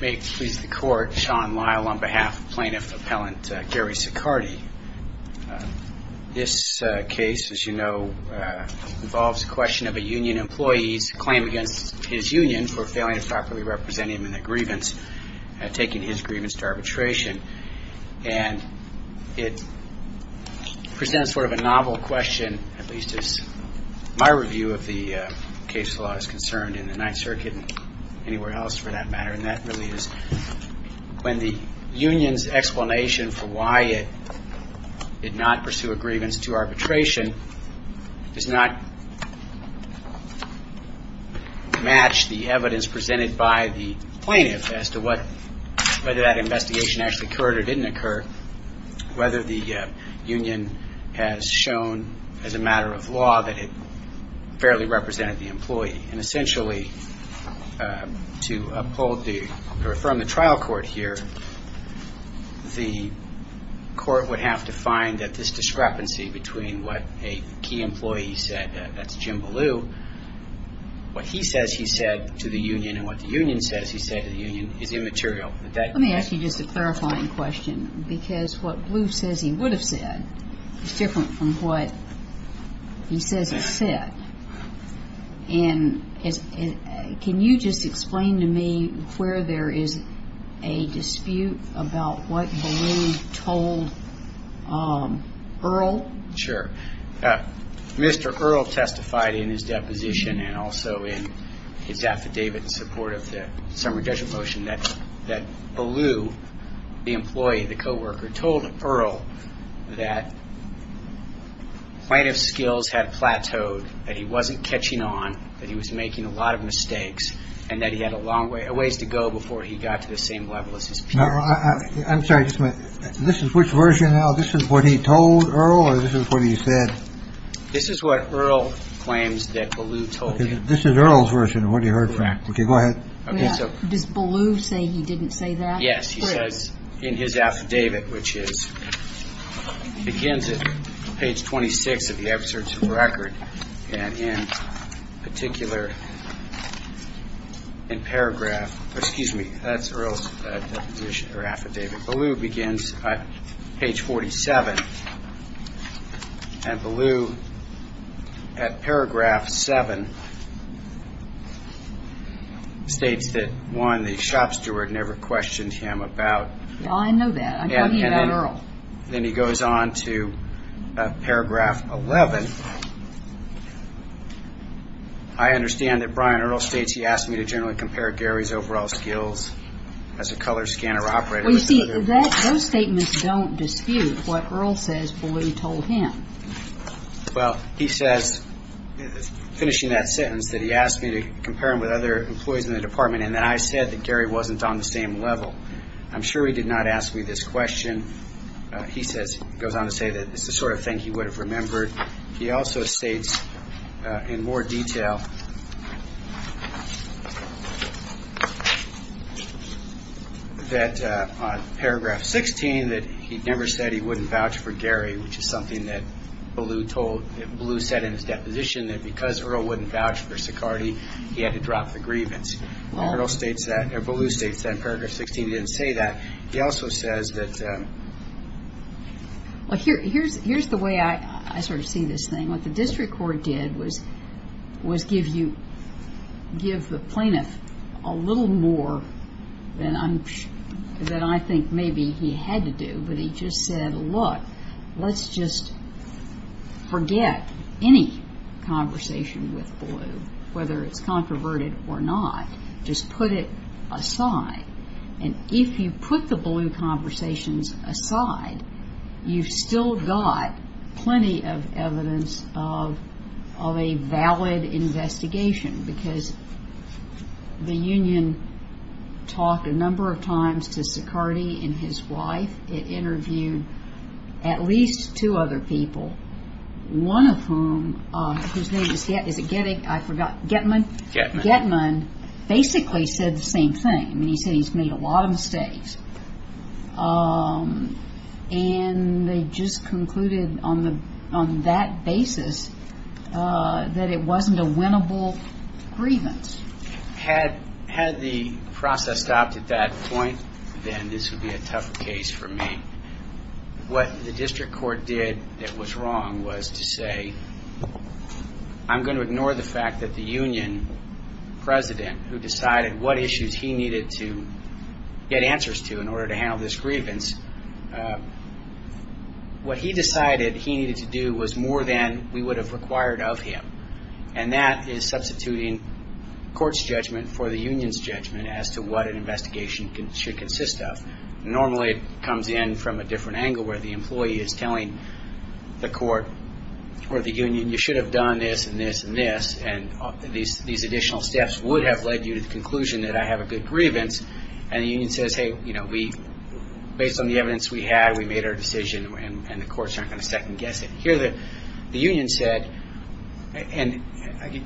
May it please the Court, Sean Lyle on behalf of Plaintiff Appellant Gary Sicardi. This case, as you know, involves the question of a union employee's claim against his union for failing to properly represent him in the grievance, taking his grievance to arbitration. And it presents sort of a novel question, at least as my review of the case law is concerned in the Ninth Circuit and anywhere else for that matter. And that really is when the union's explanation for why it did not pursue a grievance to arbitration does not match the evidence presented by the plaintiff as to whether that investigation actually occurred or didn't occur, whether the union has shown as a matter of law that it fairly represented the employee. And essentially, to uphold the, to affirm the trial court here, the court would have to find that this discrepancy between what a key employee said, that's Jim Ballou, what he says he said to the union, and what the union says he said to the union is immaterial. Let me ask you just a clarifying question, because what Ballou says he would have said is different from what he says he said. And can you just explain to me where there is a dispute about what Ballou told Earle? Sure. Mr. Earle testified in his deposition and also in his affidavit in support of the summary judgment motion that Ballou, the employee, the co-worker, told Earle that plaintiff's skills had plateaued, that he wasn't catching on, that he was making a lot of mistakes, and that he had a long ways to go before he got to the same level as his peers. I'm sorry. This is which version now. This is what he told Earle. This is what he said. This is what Earle claims that Ballou told him. This is Earle's version of what he heard. OK, go ahead. Did Ballou say he didn't say that? Yes. In his affidavit, which begins at page 26 of the excerpts of the record, and in particular in paragraph, excuse me, that's Earle's affidavit. Ballou begins at page 47, and Ballou, at paragraph 7, states that one, the shop steward never questioned him about- I know that. I'm talking about Earle. Then he goes on to paragraph 11. I understand that Brian Earle states he asked me to generally compare Gary's overall skills as a color scanner operator. You see, those statements don't dispute what Earle says for what he told him. Well, he says, finishing that sentence, that he asked me to compare him with other employees in the department, and that I said that Gary wasn't on the same level. I'm sure he did not ask me this question. He goes on to say that this is the sort of thing he would have remembered. He also states in more detail that, on paragraph 16, that he never said he wouldn't vouch for Gary, which is something that Ballou said in his deposition, that because Earle wouldn't vouch for Sicardi, he had to drop the grievance. Earle states that, or Ballou states that, in paragraph 16, he didn't say that. He also says that- Here's the way I sort of see this thing. What the district court did was give the plaintiff a little more than I think maybe he had to do. But he just said, look, let's just forget any conversation with Ballou, whether it's controverted or not. Just put it aside. And if you put the Ballou conversations aside, you've still got plenty of evidence of a valid investigation. Because the union talked a number of times to Sicardi and his wife. It interviewed at least two other people. One of whom, his name is Getman, basically said the same thing. He said he's made a lot of mistakes. And they just concluded on that basis that it wasn't a winnable grievance. Had the process stopped at that point, then this would be a tough case for me. What the district court did that was wrong was to say, I'm going to ignore the fact that the union president, who decided what issues he needed to get answers to in order to handle this grievance, what he decided he needed to do was more than we would have required of him. And that is substituting court's judgment for the union's judgment as to what an investigation should consist of. Normally, it comes in from a different angle where the employee is telling the court or the union, you should have done this and this and this. And these additional steps would have led you to the conclusion that I have a good grievance. And the union says, hey, based on the evidence we had, we made our decision. And the courts aren't going to second guess it. Here, the union said, and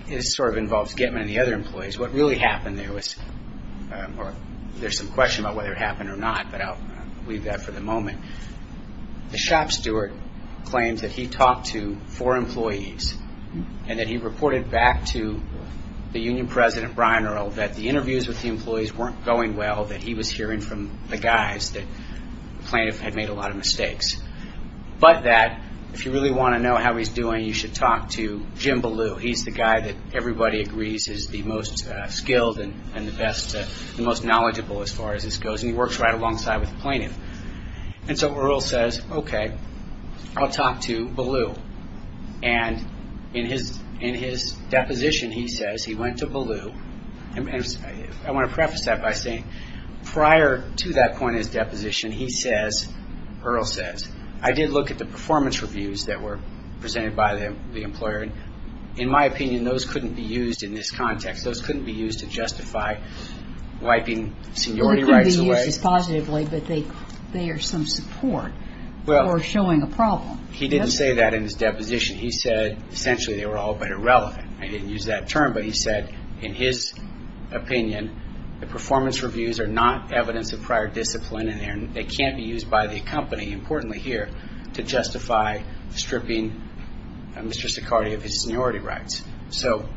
this sort of involves Getman and the other employees, what really happened there was, there's some question about whether it happened or not, but I'll leave that for the moment. The shop steward claimed that he talked to four employees and that he reported back to the union president, Brian Earl, that the interviews with the employees weren't going well, that he was hearing from the guys that claimed they made a lot of mistakes. But that if you really want to know how he's doing, you should talk to Jim Ballou. He's the guy that everybody agrees is the most skilled and the best, the most knowledgeable as far as this goes. And he works right alongside with the plaintiff. And so Earl says, okay, I'll talk to Ballou. And in his deposition, he says he went to Ballou. I want to preface that by saying prior to that point in his deposition, he says, Earl says, I did look at the performance reviews that were presented by the employer. In my opinion, those couldn't be used in this context. Those couldn't be used to justify wiping seniority rights away. They could be used positively, but they are some support for showing a problem. He didn't say that in his deposition. He said essentially they were all but irrelevant. I didn't use that term, but he said in his opinion, the performance reviews are not evidence of prior discipline and they can't be used by the company, importantly here, to justify stripping Mr. Staccardi of his seniority rights. So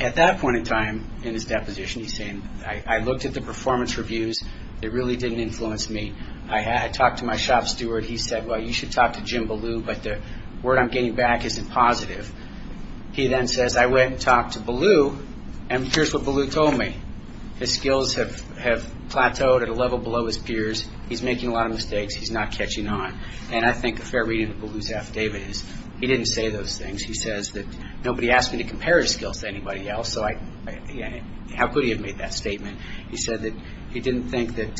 at that point in time in his deposition, he's saying, I looked at the performance reviews. They really didn't influence me. I talked to my shop steward. He said, well, you should talk to Jim Ballou, but the word I'm getting back isn't positive. He then says, I went and talked to Ballou, and here's what Ballou told me. His skills have plateaued at a level below his peers. He's making a lot of mistakes. He's not catching on. And I think a fair reading of Ballou's affidavit is he didn't say those things. He says that nobody asked me to compare his skills to anybody else, so how could he have made that statement? He said that he didn't think that...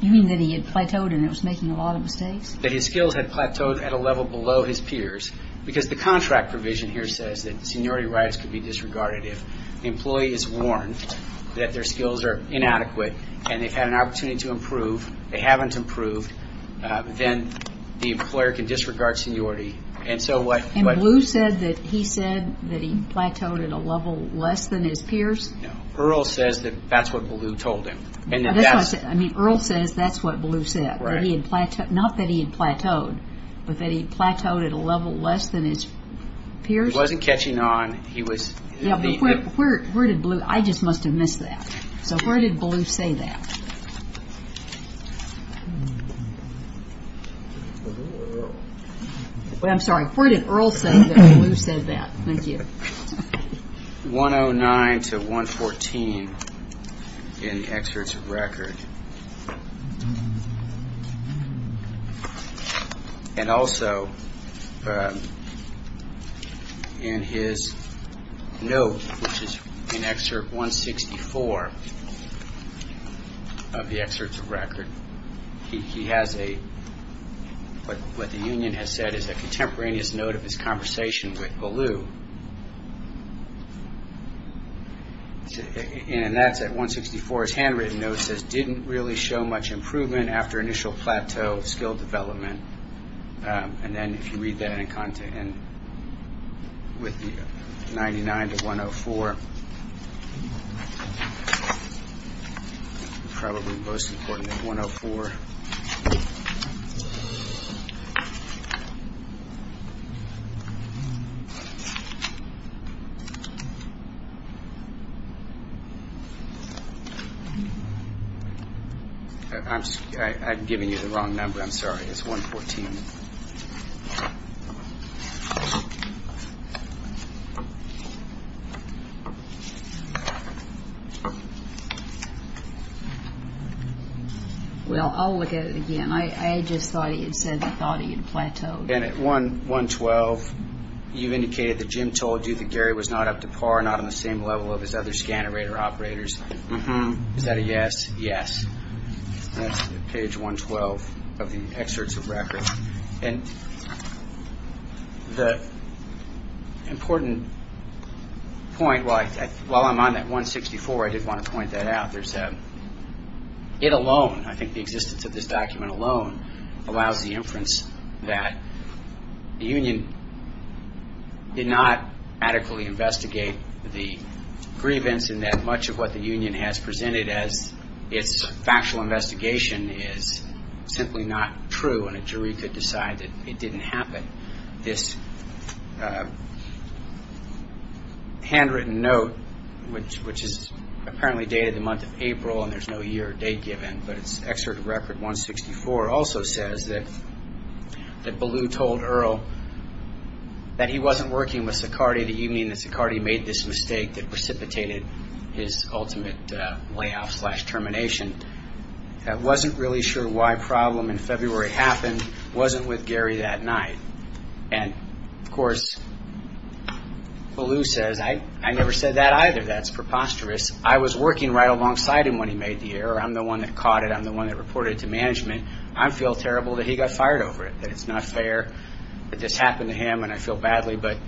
You mean that he had plateaued and it was making a lot of mistakes? That his skills had plateaued at a level below his peers, because the contract provision here says that seniority rights could be disregarded if the employee is warned that their skills are inadequate and they've had an opportunity to improve, they haven't improved, then the employer can disregard seniority. And Ballou said that he said that he plateaued at a level less than his peers? Earl says that that's what Ballou told him. I mean, Earl says that's what Ballou said. Not that he had plateaued, but that he plateaued at a level less than his peers? He wasn't catching on, he was... Yeah, but where did Ballou... I just must have missed that. So, where did Ballou say that? I'm sorry, where did Earl say that Ballou said that? Thank you. 109 to 114 in the excerpts of record. And also, in his note, which is in excerpt 164 of the excerpts of record, he has a... what the union has said is a contemporaneous note of his conversation with Ballou. And that's at 164, his handwritten note says, didn't really show much improvement after initial plateau of skill development. And then, if you read that in context, with the 99 to 104. It's probably the most important at 104. I'm giving you the wrong number, I'm sorry, it's 114. Well, I'll look at it again. I just thought he said he thought he had plateaued. And at 112, you've indicated that Jim has plateaued. Jim told you that Gary was not up to par, not on the same level of his other scanner operator operators. Is that a yes? Yes. That's page 112 of the excerpts of record. And the important point, while I'm on that 164, I did want to point that out, there's that it alone, I think the existence of this document alone, allows the inference that the union did not adequately investigate the grievance and that much of what the union has presented as its factual investigation is simply not true. And a jury could decide that it didn't happen. This handwritten note, which is apparently dated the month of April and there's no year or date given, but it's excerpt of record 164, also says that Ballou told Earl that he wasn't working with Sicardi the evening that Sicardi made this mistake that precipitated his ultimate layoff slash termination. That wasn't really sure why problem in February happened, wasn't with Gary that night. And, of course, Ballou said, I never said that either, that's preposterous. I was working right alongside him when he made the error. I'm the one that caught it. I'm the one that reported it to management. I feel terrible that he got fired over it, that it's not fair that this happened to him and I feel badly. But,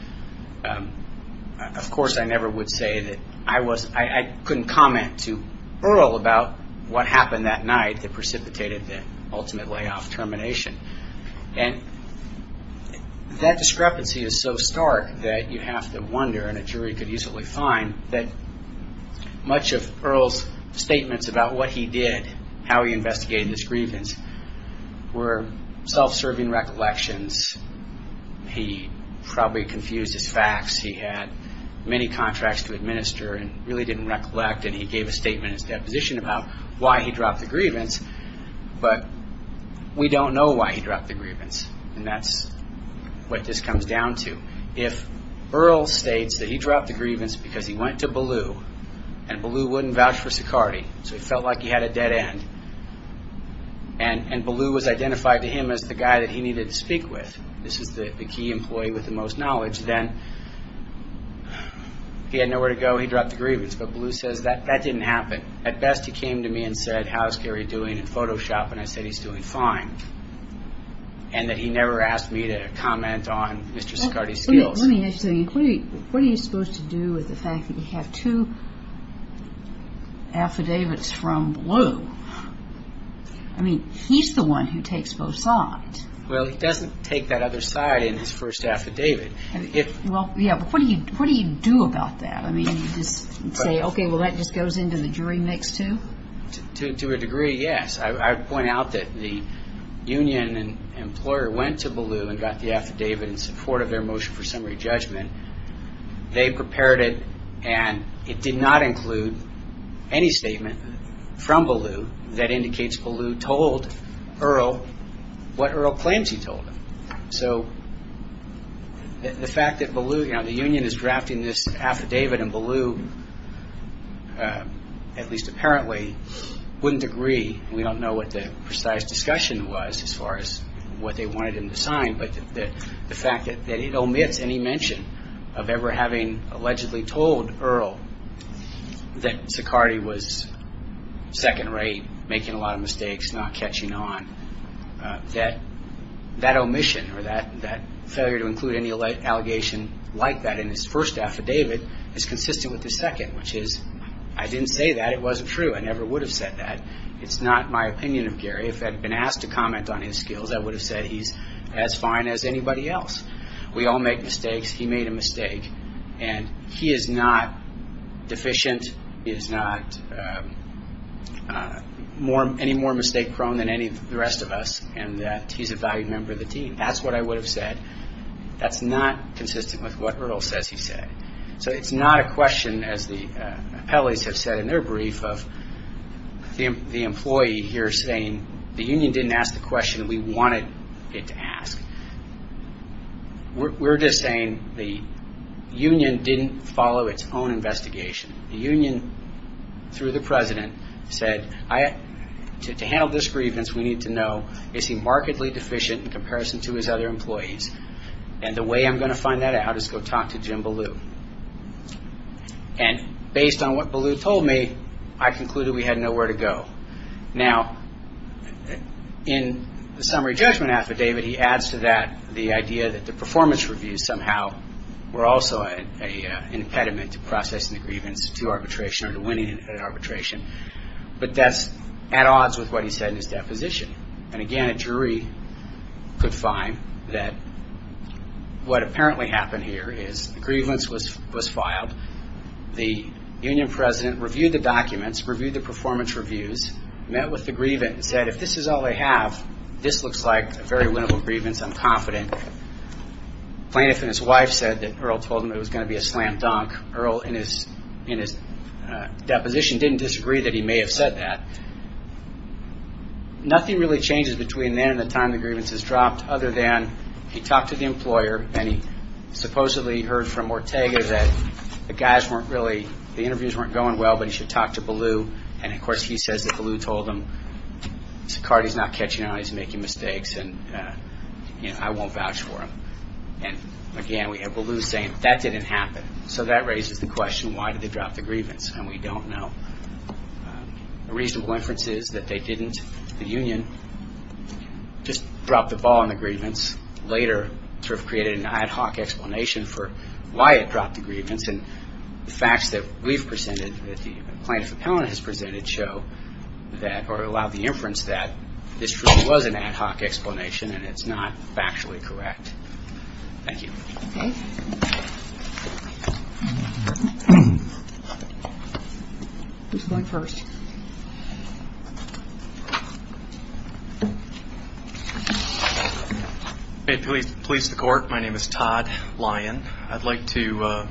of course, I never would say that I couldn't comment to Earl about what happened that night that precipitated the ultimate layoff termination. And that discrepancy is so stark that you have to wonder, and a jury could easily find, that much of Earl's statements about what he did, how he investigated this grievance, were self-serving recollections. He probably confused his facts. He had many contracts to administer and really didn't recollect and he gave a statement in his deposition about why he dropped the grievance. But we don't know why he dropped the grievance. And that's what this comes down to. If Earl states that he dropped the grievance because he went to Ballou and Ballou wouldn't vouch for Sicardi, so he felt like he had a dead end, and Ballou was identified to him as the guy that he needed to speak with, this is the key employee with the most knowledge, then he had nowhere to go, he dropped the grievance. But Ballou says, that didn't happen. At best he came to me and said, how is Gary doing in Photoshop, and I said he's doing fine. And that he never asked me to comment on Mr. Sicardi's guilt. Let me ask you, what are you supposed to do with the fact that you have two affidavits from Ballou? I mean, he's the one who takes both sides. Well, he doesn't take that other side in his first affidavit. Yeah, but what do you do about that? I mean, you just say, okay, well that just goes into the jury next to him? To a degree, yes. I would point out that the union employer went to Ballou and got the affidavit in support of their motion for summary judgment. They prepared it, and it did not include any statement from Ballou that indicates Ballou told Earl what Earl plans he told him. So, the fact that Ballou, you know, the union is drafting this affidavit and Ballou, at least apparently, wouldn't agree. We don't know what the precise discussion was as far as what they wanted him to sign, but the fact that he'd omit any mention of ever having allegedly told Earl that Sicardi was second rate, making a lot of mistakes, not catching on, that omission or that failure to include any allegation like that in his first affidavit is consistent with his second, which is, I didn't say that. It wasn't true. I never would have said that. It's not my opinion of Gary. If I'd been asked to comment on his skills, I would have said he's as fine as anybody else. We all make mistakes. He made a mistake. And he is not deficient. He is not any more mistake prone than any of the rest of us in that he's a valued member of the team. That's what I would have said. That's not consistent with what Earl says he said. So, it's not a question, as the appellate has said in their brief, of the employee here saying the union didn't ask the question we wanted it to ask. We're just saying the union didn't follow its own investigation. The union, through the president, said to handle this grievance, we need to know, is he markedly deficient in comparison to his other employees? And the way I'm going to find that out is to go talk to Jim Ballou. And based on what Ballou told me, I concluded we had nowhere to go. Now, in the summary judgment affidavit, he adds to that the idea that the performance reviews somehow were also an impediment to processing the grievance to arbitration or to winning an arbitration. But that's at odds with what he said in his definition. And, again, a jury could find that what apparently happened here is the grievance was filed. The union president reviewed the documents, reviewed the performance reviews, met with the grievance, and said if this is all they have, this looks like a very winnable grievance, I'm confident. Plaintiff and his wife said that Earl told them it was going to be a slam dunk. Earl, in his deposition, didn't disagree that he may have said that. Nothing really changes between then and the time the grievance is dropped other than he talked to the employer and he supposedly heard from Ortega that the guys weren't really-the interviews weren't going well, but he should talk to Ballou. And, of course, he says that Ballou told him Sicardi's not catching on, he's making mistakes, and I won't vouch for him. And, again, we have Ballou saying that didn't happen. So that raises the question, why did they drop the grievance? And we don't know. The reasonable inference is that they didn't. The union just dropped the ball on the grievance. Later, sort of created an ad hoc explanation for why it dropped the grievance. And the facts that we've presented, that the plaintiff has presented, show that-or allow the inference that this truly was an ad hoc explanation and it's not factually correct. Thank you. Okay. Who's going first? If we please the court, my name is Todd Lyon. I'd like to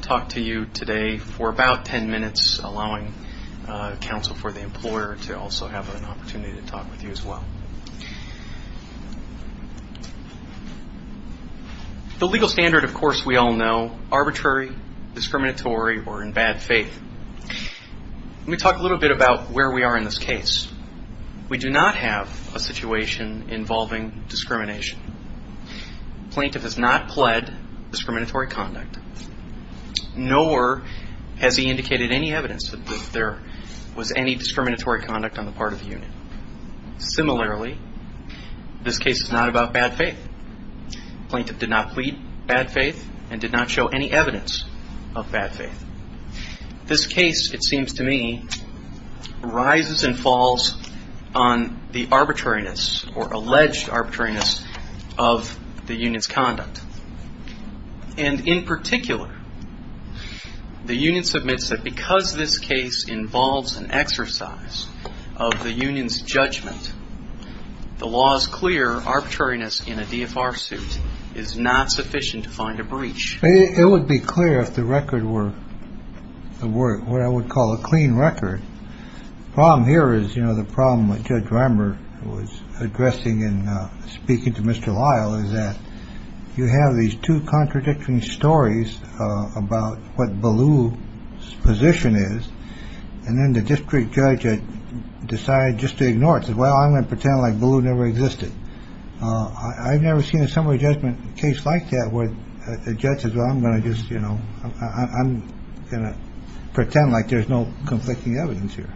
talk to you today for about ten minutes, allowing counsel for the employer to also have an opportunity to talk with you as well. The legal standard, of course, we all know, arbitrary, discriminatory, or in bad faith. Let me talk a little bit about where we are in this case. We do not have a situation involving discrimination. The plaintiff has not pled discriminatory conduct, nor has he indicated any evidence that there was any discriminatory conduct on the part of the union. Similarly, this case is not about bad faith. The plaintiff did not plead bad faith and did not show any evidence of bad faith. This case, it seems to me, rises and falls on the arbitrariness, or alleged arbitrariness, of the union's conduct. And in particular, the union submits that because this case involves an exercise of the union's judgment, the law is clear. Arbitrariness in a DFR suit is not sufficient to find a breach. It would be clear if the record were what I would call a clean record. The problem here is, you know, the problem that Judge Rimer was addressing in speaking to Mr. Lyle, is that you have these two contradicting stories about what Ballou's position is, and then the district judge decides just to ignore it. He says, well, I'm going to pretend like Ballou never existed. I've never seen a similar judgment case like that where the judge says, Well, I'm going to just, you know, I'm going to pretend like there's no conflicting evidence here.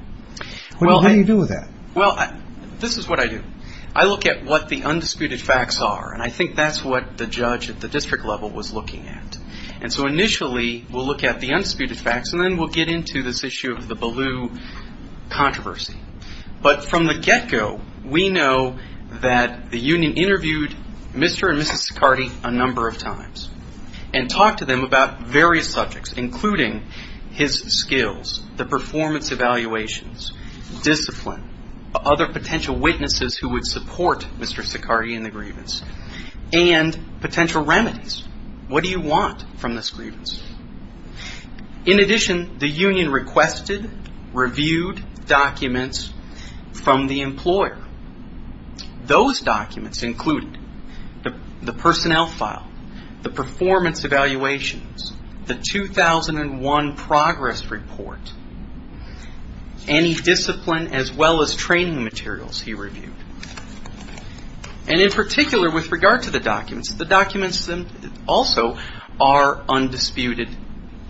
What do you do with that? Well, this is what I do. I look at what the undisputed facts are, and I think that's what the judge at the district level was looking at. And so initially, we'll look at the undisputed facts, and then we'll get into this issue of the Ballou controversy. But from the get-go, we know that the union interviewed Mr. and Mrs. Ducardi a number of times, and talked to them about various subjects, including his skills, the performance evaluations, discipline, other potential witnesses who would support Mr. Ducardi in the grievance, and potential remedies. What do you want from this grievance? In addition, the union requested, reviewed documents from the employer. Those documents included the personnel file, the performance evaluations, the 2001 progress report, any discipline as well as training materials he reviewed. And in particular, with regard to the documents, the documents also are undisputed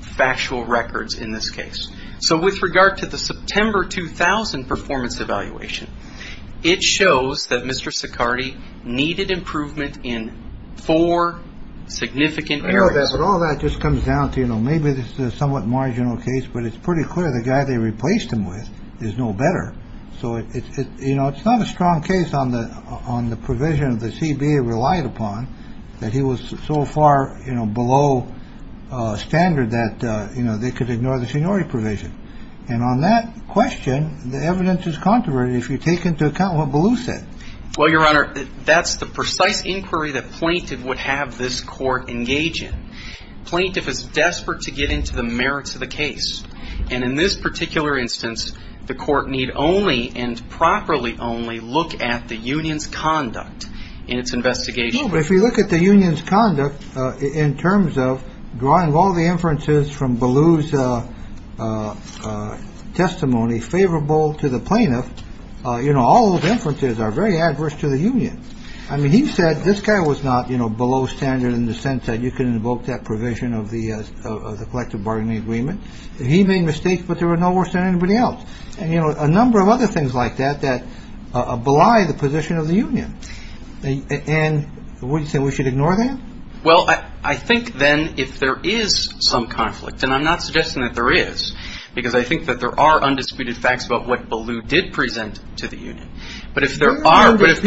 factual records in this case. So with regard to the September 2000 performance evaluation, it shows that Mr. Ducardi needed improvement in four significant areas. All that just comes down to maybe this is a somewhat marginal case, but it's pretty clear the guy they replaced him with is no better. So it's not a strong case on the provision the CBA relied upon, that he was so far below standard that they could ignore the seniority provision. And on that question, the evidence is controversial if you take into account what Ballou said. Well, Your Honor, that's the precise inquiry that plaintiff would have this court engage in. Plaintiff is desperate to get into the merits of the case. And in this particular instance, the court need only, and properly only, look at the union's conduct in its investigation. But if you look at the union's conduct in terms of drawing all the inferences from Ballou's testimony favorable to the plaintiff, you know, all those inferences are very adverse to the union. I mean, he said this guy was not below standard in the sense that you can invoke that provision of the collective bargaining agreement. He made mistakes, but there were no worse than anybody else. And, you know, a number of other things like that that oblige the position of the union. And would you say we should ignore that? Well, I think then if there is some conflict, and I'm not suggesting that there is, because I think that there are undisputed facts about what Ballou did present to the union. But if there are... That's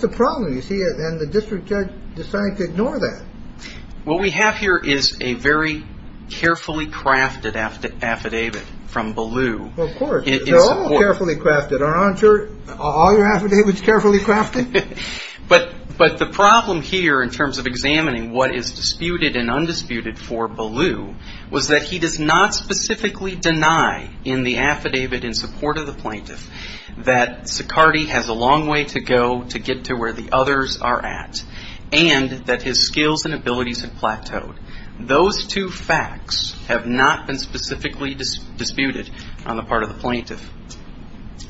the problem, you see, and the district judge decided to ignore that. What we have here is a very carefully crafted affidavit from Ballou. Of course, it's all carefully crafted. Aren't all your affidavits carefully crafted? But the problem here in terms of examining what is disputed and undisputed for Ballou was that he does not specifically deny in the affidavit in support of the plaintiff that Sicardi has a long way to go to get to where the others are at and that his skills and abilities have plateaued. Those two facts have not been specifically disputed on the part of the plaintiff.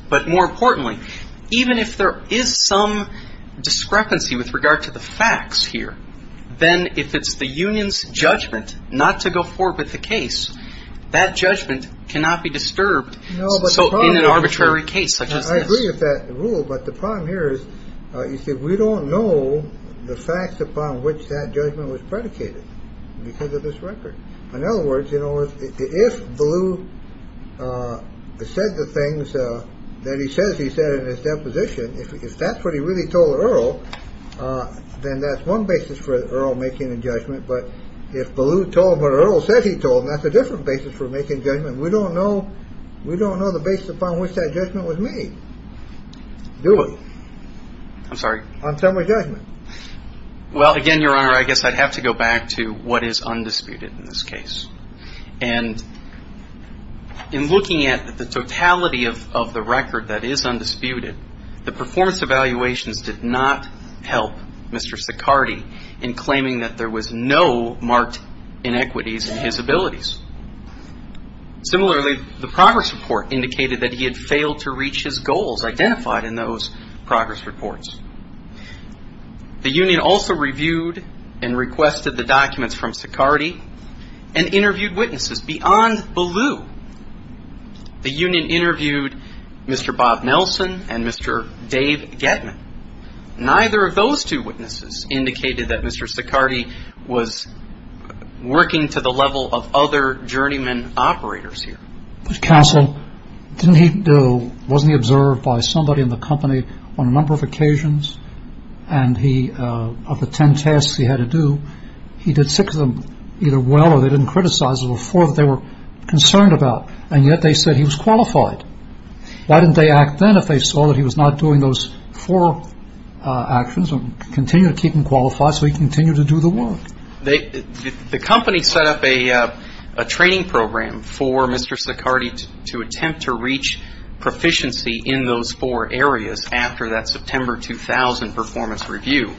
But more importantly, even if there is some discrepancy with regard to the facts here, then if it's the union's judgment not to go forward with the case, that judgment cannot be disturbed in an arbitrary case such as this. I agree with that rule, but the problem here is, you see, we don't know the facts upon which that judgment was predicated because of this record. In other words, if Ballou said the things that he says he said in his deposition, if that's what he really told Earl, then that's one basis for Earl making a judgment. But if Ballou told him what Earl said he told him, that's a different basis for making a judgment. We don't know the basis upon which that judgment was made. Do it. I'm sorry? On summary judgment. Well, again, Your Honor, I guess I'd have to go back to what is undisputed in this case. And in looking at the totality of the record that is undisputed, the performance evaluations did not help Mr. Sicardi in claiming that there was no marked inequities in his abilities. Similarly, the progress report indicated that he had failed to reach his goals identified in those progress reports. The union also reviewed and requested the documents from Sicardi and interviewed witnesses beyond Ballou. The union interviewed Mr. Bob Nelson and Mr. Dave Getman. Neither of those two witnesses indicated that Mr. Sicardi was working to the level of other journeymen operators here. Counsel, wasn't he observed by somebody in the company on a number of occasions? And of the ten tasks he had to do, he did six of them either well or they didn't criticize him. Those were four they were concerned about. And yet they said he was qualified. Why didn't they act then if they saw that he was not doing those four actions and continue to keep him qualified so he could continue to do the work? The company set up a training program for Mr. Sicardi to attempt to reach proficiency in those four areas after that September 2000 performance review.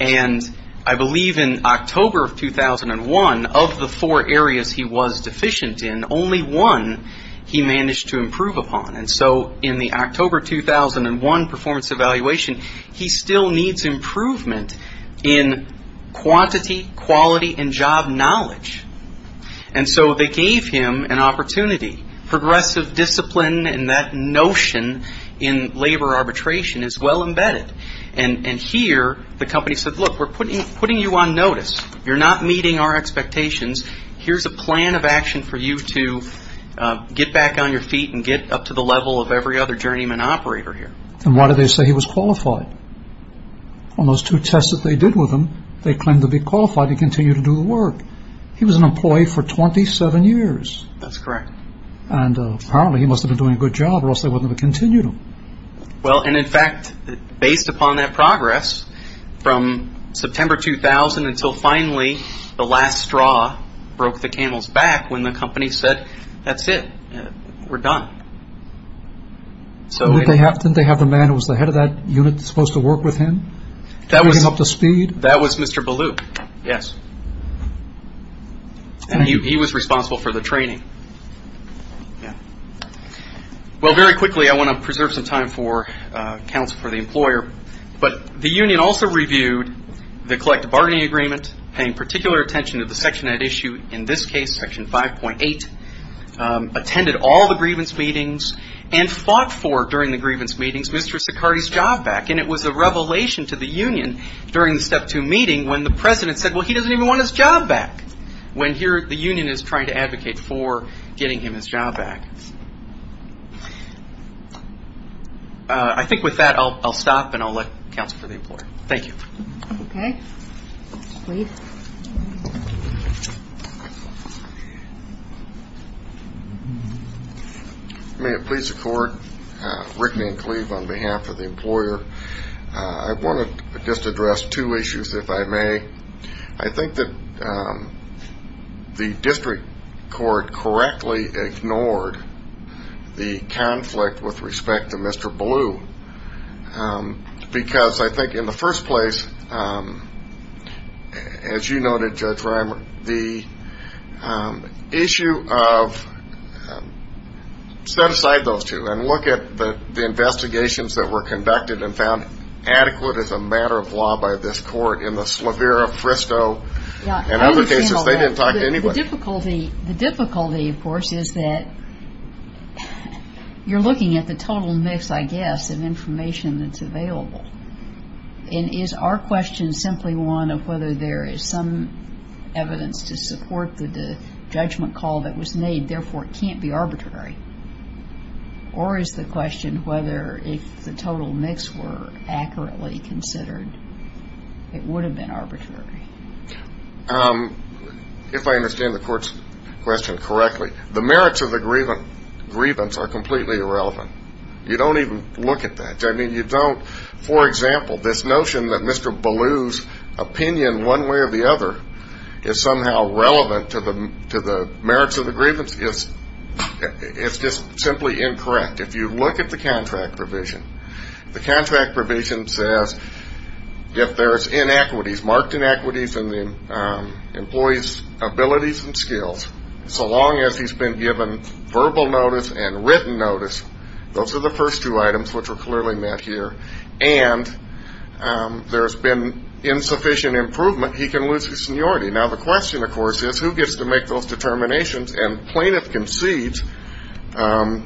And I believe in October 2001, of the four areas he was deficient in, only one he managed to improve upon. And so in the October 2001 performance evaluation, he still needs improvement in quantity, quality, and job knowledge. And so they gave him an opportunity. Progressive discipline and that notion in labor arbitration is well embedded. And here, the company said, look, we're putting you on notice. You're not meeting our expectations. Here's a plan of action for you to get back on your feet and get up to the level of every other journeyman operator here. And why did they say he was qualified? On those two tests that they did with him, they claimed to be qualified to continue to do the work. He was an employee for 27 years. That's correct. And apparently he must have been doing a good job or else they wouldn't have continued him. Well, and in fact, based upon that progress, from September 2000 until finally the last straw broke the camel's back when the company said, that's it. We're done. Didn't they have the man who was the head of that unit that was supposed to work with him? That was Mr. Ballou. Yes. And he was responsible for the training. Yeah. Well, very quickly, I want to preserve some time for counsel for the employer. But the union also reviewed the collective bargaining agreement, paying particular attention to the section that issued, in this case, Section 5.8, attended all the grievance meetings, and fought for, during the grievance meetings, Mr. Sicardi's job back. And it was a revelation to the union during the Step 2 meeting when the president said, well, he doesn't even want his job back. When here, the union is trying to advocate for getting him his job back. I think with that, I'll stop and I'll let counsel for the employer. Thank you. Okay. May it please the court, Rick Van Cleve on behalf of the employer. I want to just address two issues, if I may. I think that the district court correctly ignored the conflict with respect to Mr. Ballou. Because I think in the first place, as you noted, Judge Reimer, the issue of Set aside those two and look at the investigations that were conducted and found adequate as a matter of law by this court in the Slavera, Fristo, and other cases. They didn't talk to anybody. The difficulty, of course, is that you're looking at the total mix, I guess, of information that's available. And is our question simply one of whether there is some evidence to support the judgment call that was made, therefore it can't be arbitrary? Or is the question whether if the total mix were accurately considered, it would have been arbitrary? If I understand the court's question correctly, the merits of the grievance are completely irrelevant. You don't even look at that. For example, this notion that Mr. Ballou's opinion one way or the other is somehow relevant to the merits of the grievance, it's just simply incorrect. If you look at the contract provision, the contract provision says if there's inequities, marked inequities, in the employee's abilities and skills, so long as he's been given verbal notice and written notice, those are the first two items which are clearly met here, and there's been insufficient improvement, he can lose his seniority. Now, the question, of course, is who gets to make those determinations? And plaintiff concedes, and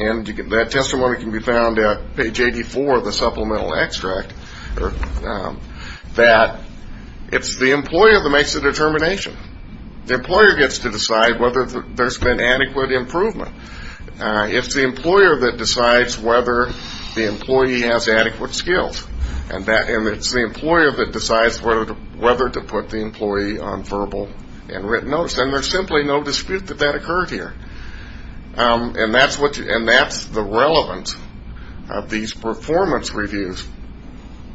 that testimony can be found at page 84 of the supplemental extract, that it's the employer that makes the determination. The employer gets to decide whether there's been adequate improvement. It's the employer that decides whether the employee has adequate skills, and it's the employer that decides whether to put the employee on verbal and written notice. And there's simply no dispute that that occurred here. And that's the relevance of these performance reviews.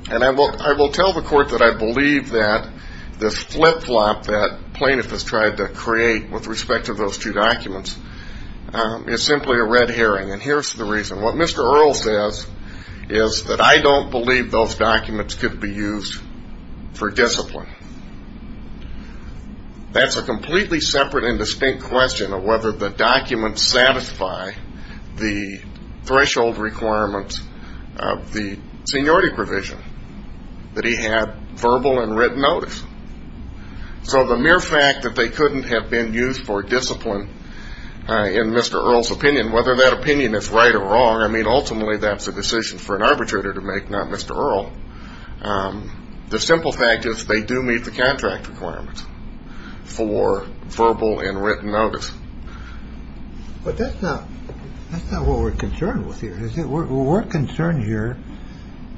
And I will tell the court that I believe that the flip-flop that plaintiff has tried to create with respect to those two documents is simply a red herring. And here's the reason. What Mr. Earle says is that I don't believe those documents could be used for discipline. That's a completely separate and distinct question of whether the documents satisfy the threshold requirements of the seniority provision, that he had verbal and written notice. So the mere fact that they couldn't have been used for discipline, in Mr. Earle's opinion, whether that opinion is right or wrong, I mean, ultimately that's a decision for an arbitrator to make, not Mr. Earle. The simple fact is they do meet the contract requirements for verbal and written notice. But that's not what we're concerned with here, is it? We're concerned here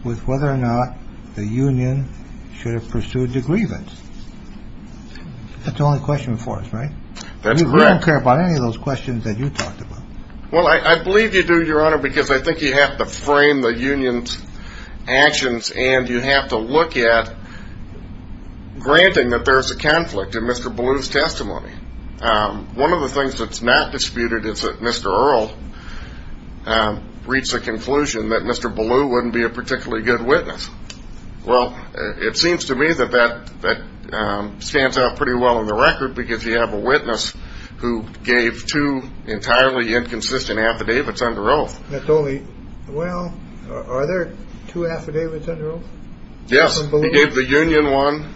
with whether or not the union should have pursued the grievance. That's the only question before us, right? We don't care about any of those questions that you talked about. Well, I believe you do, Your Honor, because I think you have to frame the union's actions and you have to look at granting that there's a conflict in Mr. Blue's testimony. One of the things that's not disputed is that Mr. Earle reached the conclusion that Mr. Blue wouldn't be a particularly good witness. Well, it seems to me that that stands out pretty well in the record, because you have a witness who gave two entirely inconsistent affidavits under oath. Well, are there two affidavits under oath? Yes, he gave the union one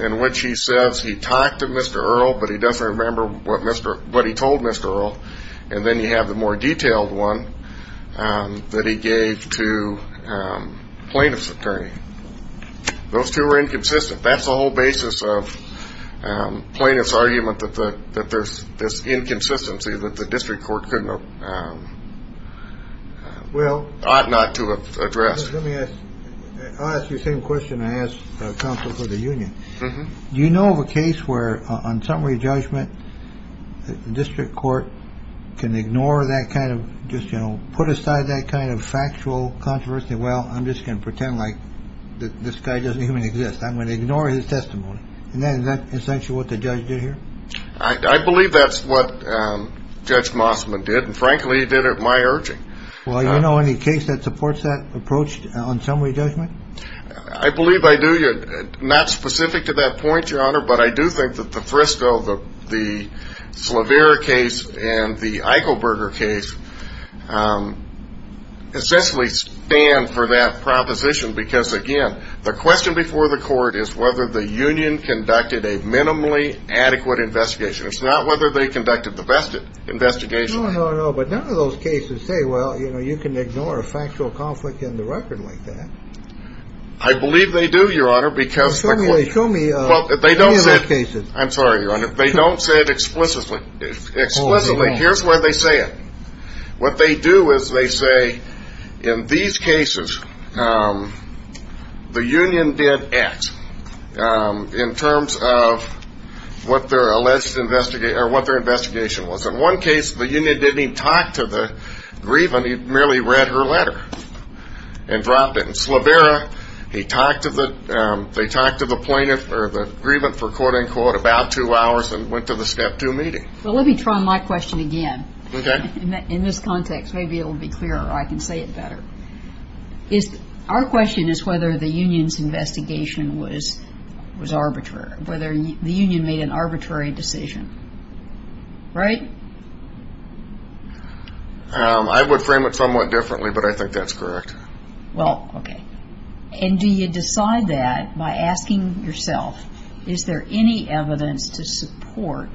in which he says he talked to Mr. Earle, but he doesn't remember what he told Mr. Earle. And then you have the more detailed one that he gave to plaintiff's attorney. Those two are inconsistent. That's the whole basis of plaintiff's argument that there's this inconsistency that the district court could not, ought not to have addressed. Let me ask you the same question I asked the counsel for the union. Do you know of a case where, on summary judgment, the district court can ignore that kind of, just put aside that kind of factual controversy, well, I'm just going to pretend like this guy doesn't even exist. I'm going to ignore his testimony. Isn't that essentially what the judge did here? I believe that's what Judge Mossman did, and frankly, he did it at my urging. Well, do you know of any case that supports that approach on summary judgment? I believe I do. Not specific to that point, Your Honor, but I do think that the Frisco, the Flavier case, and the Eichelberger case essentially stand for that proposition because, again, the question before the court is whether the union conducted a minimally adequate investigation. It's not whether they conducted the best investigation. I don't know, but none of those cases say, well, you can ignore a factual conflict in the record like that. I believe they do, Your Honor, because they don't say it explicitly. Here's where they say it. What they do is they say, in these cases, the union did X in terms of what their investigation was. In one case, the union didn't even talk to the grievant. He merely read her letter and dropped it in slobbera. They talked to the plaintiff or the grievant for quote-unquote about two hours and went to the Step 2 meeting. Well, let me try my question again. Okay. In this context, maybe it will be clearer. I can say it better. Our question is whether the union's investigation was arbitrary, whether the union made an arbitrary decision. Right? I would frame it somewhat differently, but I think that's correct. Well, okay. And do you decide that by asking yourself, is there any evidence to support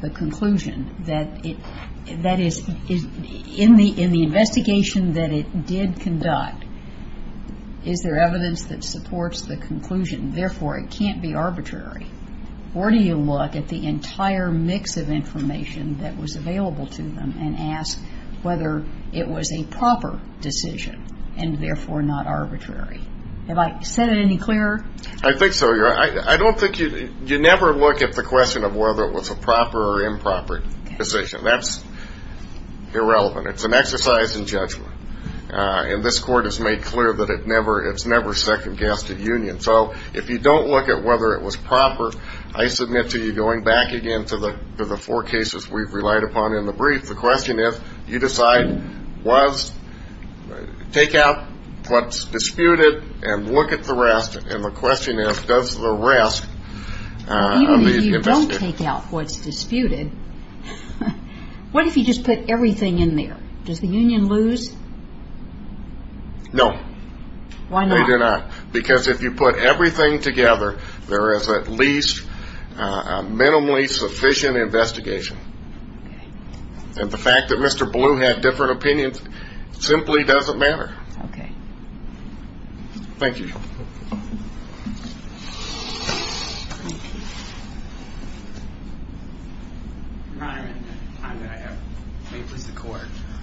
the conclusion that in the investigation that it did conduct, is there evidence that supports the conclusion, therefore, it can't be arbitrary? Or do you look at the entire mix of information that was available to them and ask whether it was a proper decision and, therefore, not arbitrary? Have I said it any clearer? I think so. You never look at the question of whether it was a proper or improper decision. That's irrelevant. It's an exercise in judgment. And this Court has made clear that it's never second-guessed a union. So, if you don't look at whether it was proper, I submit to you, going back again to the four cases we've relied upon in the brief, the question is, do you decide to take out what's disputed and look at the rest? And the question is, does the rest of the investigation- Even if you don't take out what's disputed, what if you just put everything in there? No. Why not? Because if you put everything together, there is at least a minimally sufficient investigation. And the fact that Mr. Blue had different opinions simply doesn't matter. Okay. Thank you.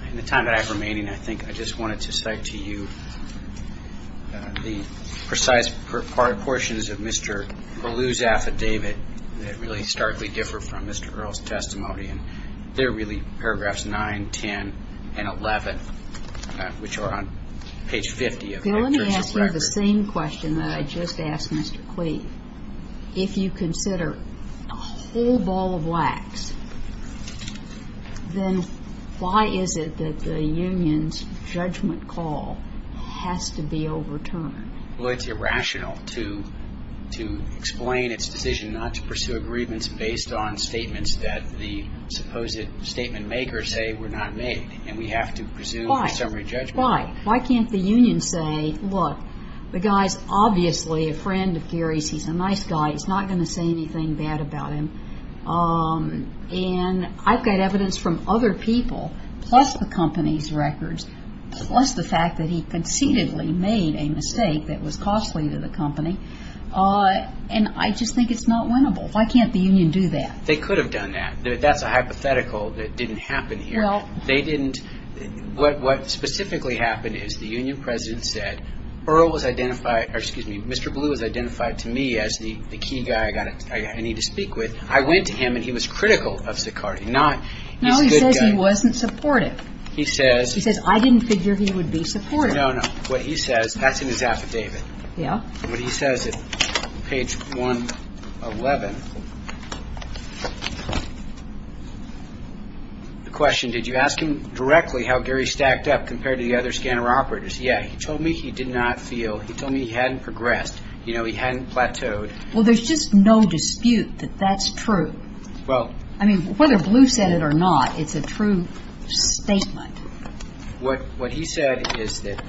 In the time that I have remaining, I think I just wanted to cite to you the precise portions of Mr. Blue's affidavit that really starkly differ from Mr. Earle's testimony. And they're really paragraphs 9, 10, and 11, which are on page 50 of his record. Bill, let me ask you the same question that I just asked Mr. Clayton. If you consider a whole ball of wax, then why is it that the union's judgment call has to be overturned? Well, it's irrational to explain its decision not to pursue agreements based on statements that the supposed statement makers say were not made. And we have to pursue a summary judgment. Why? Why can't the union say, look, the guy's obviously a friend of Gary's. He's a nice guy. He's not going to say anything bad about him. And I've got evidence from other people, plus the company's records, plus the fact that he conceitedly made a mistake that was costly to the company. And I just think it's not winnable. Why can't the union do that? They could have done that. That's a hypothetical that didn't happen here. What specifically happened is the union president said, Mr. Blue was identified to me as the key guy I need to speak with. I went to him, and he was critical of Sicardi. No, he said he wasn't supportive. He said, I didn't figure he would be supportive. No, no. That's in his affidavit. What he says at page 111, the question, did you ask him directly how Gary stacked up compared to the other scanner operators? Yeah, he told me he did not feel, he told me he hadn't progressed. You know, he hadn't plateaued. Well, there's just no dispute that that's true. I mean, whether Blue said it or not, it's a true statement. What he said is that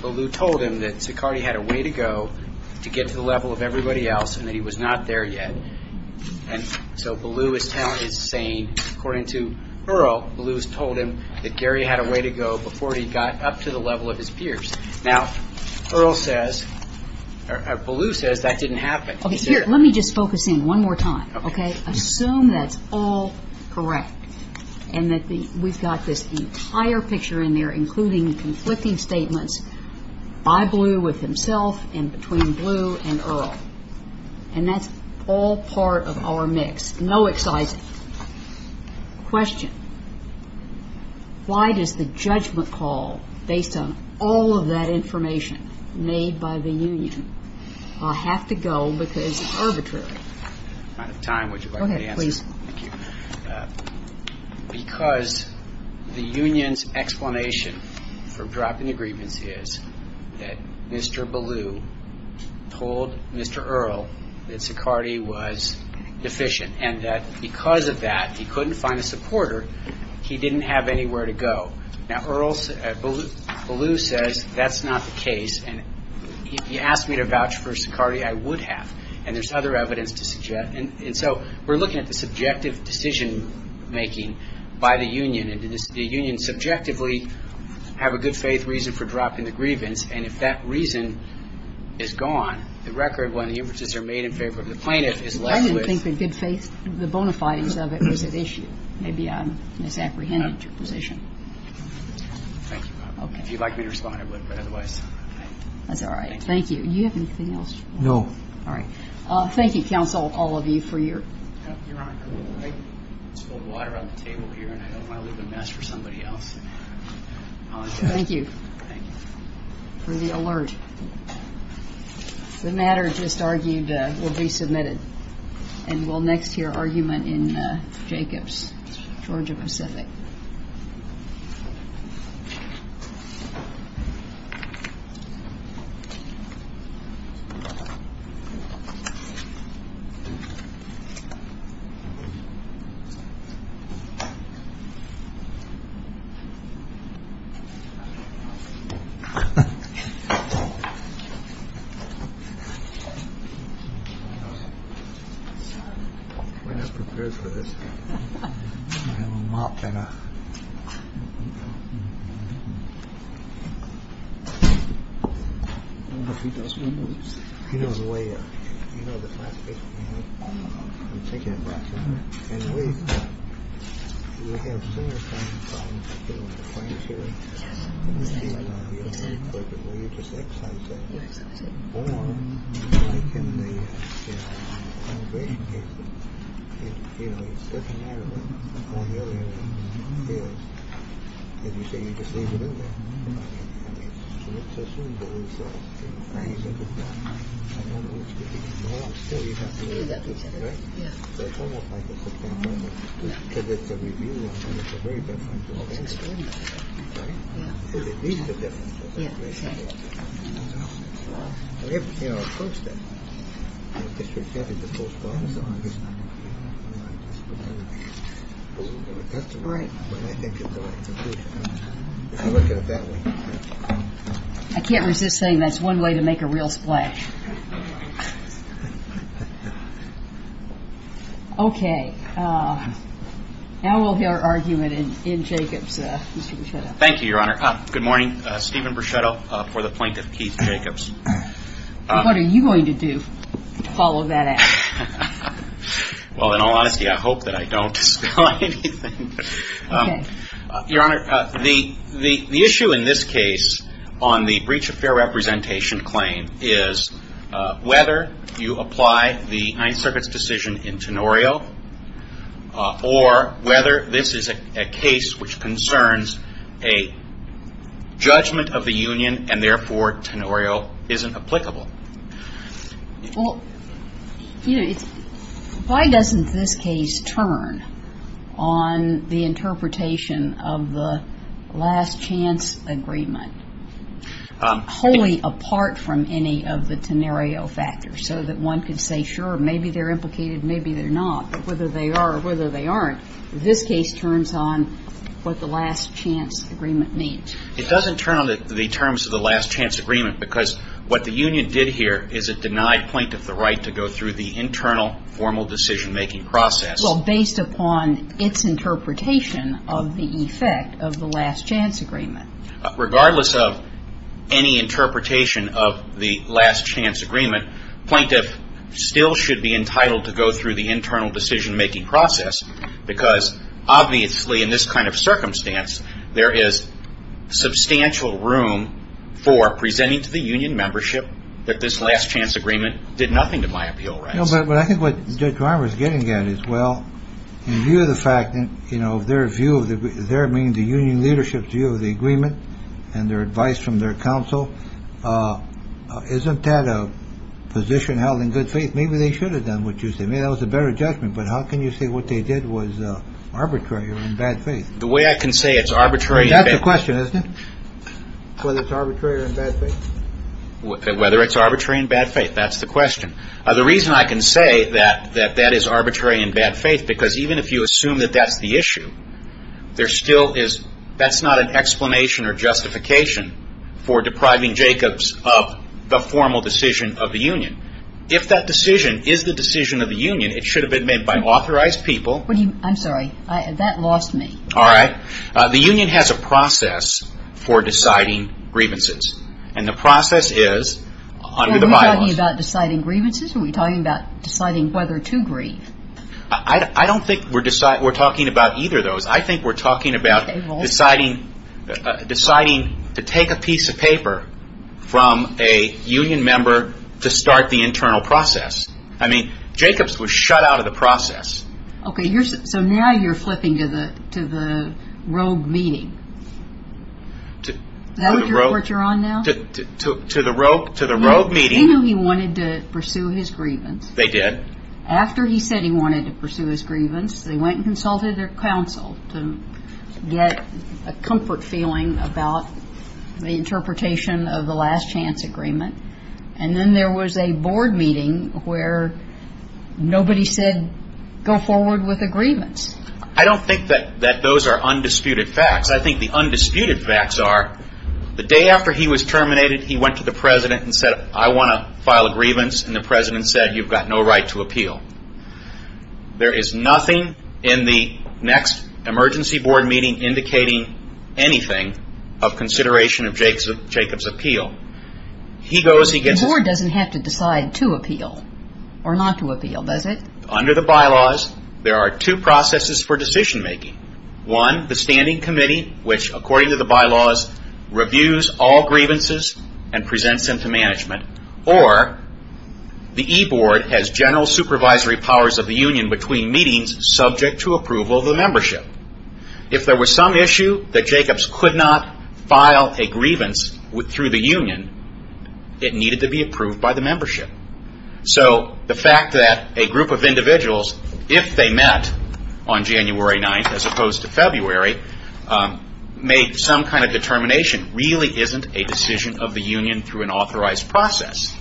Blue told him that Sicardi had a way to go to get to the level of everybody else, and that he was not there yet. And so Blue is saying, according to Pearl, Blue has told him that Gary had a way to go before he got up to the level of his peers. Now, Pearl says, or Blue says, that didn't happen. Let me just focus in one more time, OK? I assume that's all correct. And that we've got this entire picture in there, including conflicting statements. I believe it was himself, and between Blue and Earl. And that's all part of our mix. No excises. Question. Why does the judgment call, based on all of that information made by the union, have to go because it's arbitrary? Because the union's explanation for dropping the grievance is that Mr. Porter, he didn't have anywhere to go. Now, Blue says, that's not the case. And he asked me to vouch for Sicardi. I would have. And there's other evidence to suggest. And so we're looking at the subjective decision-making by the union. And does the union subjectively have a good faith reason for dropping the grievance? And if that reason is gone, the record when the inferences are made in favor of the plaintiff is left with- You'd like me to respond? That's all right. Thank you. Do you have anything else? No. All right. Thank you, counsel, all of you, for your- Thank you. For the alert. The matter just argued will be submitted. And we'll next hear argument in Jacobs, Georgia Pacific. We're just prepared for this. We have a lot to go. Thank you. I can't resist saying that's one way to make a real splash. Okay. Now we'll hear argument in Jacobs, Georgia Pacific. Thank you, Your Honor. Good morning. Stephen Bruschetto for the plaintiff, Keith Jacobs. All right. What are you going to do to follow that up? Well, in all honesty, I hope that I don't deny anything. Your Honor, the issue in this case on the breach of fair representation claim is whether you apply the Ninth Circuit's decision in Tenorio, or whether this is a case which concerns a judgment of the union, and therefore Tenorio isn't applicable. Well, why doesn't this case turn on the interpretation of the last chance agreement? Wholly apart from any of the Tenorio factors, so that one could say, sure, maybe they're implicated, maybe they're not, whether they are or whether they aren't. This case turns on what the last chance agreement means. It doesn't turn on the terms of the last chance agreement, because what the union did here is it denied plaintiff the right to go through the internal formal decision-making process. Well, based upon its interpretation of the effect of the last chance agreement. Regardless of any interpretation of the last chance agreement, plaintiff still should be entitled to go through the internal decision-making process, because obviously in this kind of circumstance, there is substantial room for presenting to the union membership that this last chance agreement did nothing to my appeal rights. No, but I think what Judge Armour is getting at is, well, in view of the fact that, you know, their view, their meaning, the union leadership's view of the agreement, and their advice from their counsel, isn't that a position held in good faith? Maybe they should have done what you say. Maybe that was a better judgment, but how can you say what they did was arbitrary or in bad faith? The way I can say it's arbitrary... That's the question, isn't it? Whether it's arbitrary or in bad faith? Whether it's arbitrary or in bad faith, that's the question. The reason I can say that that is arbitrary in bad faith, because even if you assume that that's the issue, there still is... that's not an explanation or justification for depriving Jacobs of the formal decision of the union. If that decision is the decision of the union, it should have been made by authorized people. I'm sorry, that lost me. All right. The union has a process for deciding grievances, and the process is... Are we talking about deciding grievances, or are we talking about deciding whether to grieve? I don't think we're talking about either of those. I think we're talking about deciding to take a piece of paper from a union member to start the internal process. I mean, Jacobs was shut out of the process. Okay, so now you're flipping to the rogue meeting. Is that what you're on now? He knew he wanted to pursue his grievance. They did? After he said he wanted to pursue his grievance, they went and consulted their counsel to get a comfort feeling about the interpretation of the last chance agreement. And then there was a board meeting where nobody said, go forward with agreements. I don't think that those are undisputed facts. I think the undisputed facts are the day after he was terminated, he went to the president and said, I want to file a grievance, and the president said, you've got no right to appeal. There is nothing in the next emergency board meeting indicating anything of consideration of Jacobs' appeal. The board doesn't have to decide to appeal or not to appeal, does it? Under the bylaws, there are two processes for decision-making. One, the standing committee, which, according to the bylaws, reviews all grievances and presents them to management. Or, the e-board has general supervisory powers of the union between meetings subject to approval of the membership. If there was some issue that Jacobs could not file a grievance through the union, it needed to be approved by the membership. So, the fact that a group of individuals, if they met on January 9th as opposed to February, made some kind of determination really isn't a decision of the union through an authorized process.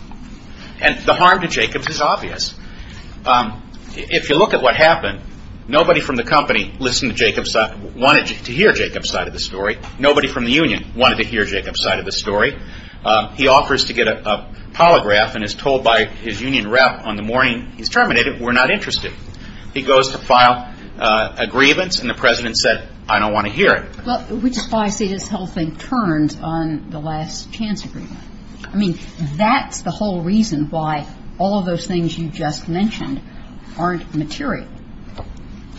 And the harm to Jacobs is obvious. If you look at what happened, nobody from the company wanted to hear Jacobs' side of the story. Nobody from the union wanted to hear Jacobs' side of the story. So, Jacobs' side of the story, he offers to get a polygraph and is told by his union rep on the morning he is terminated, we are not interested. He goes to file a grievance and the president says, I don't want to hear it. We just want to say this whole thing turned on the last chance agreement. I mean, that is the whole reason why all of those things you just mentioned aren't material.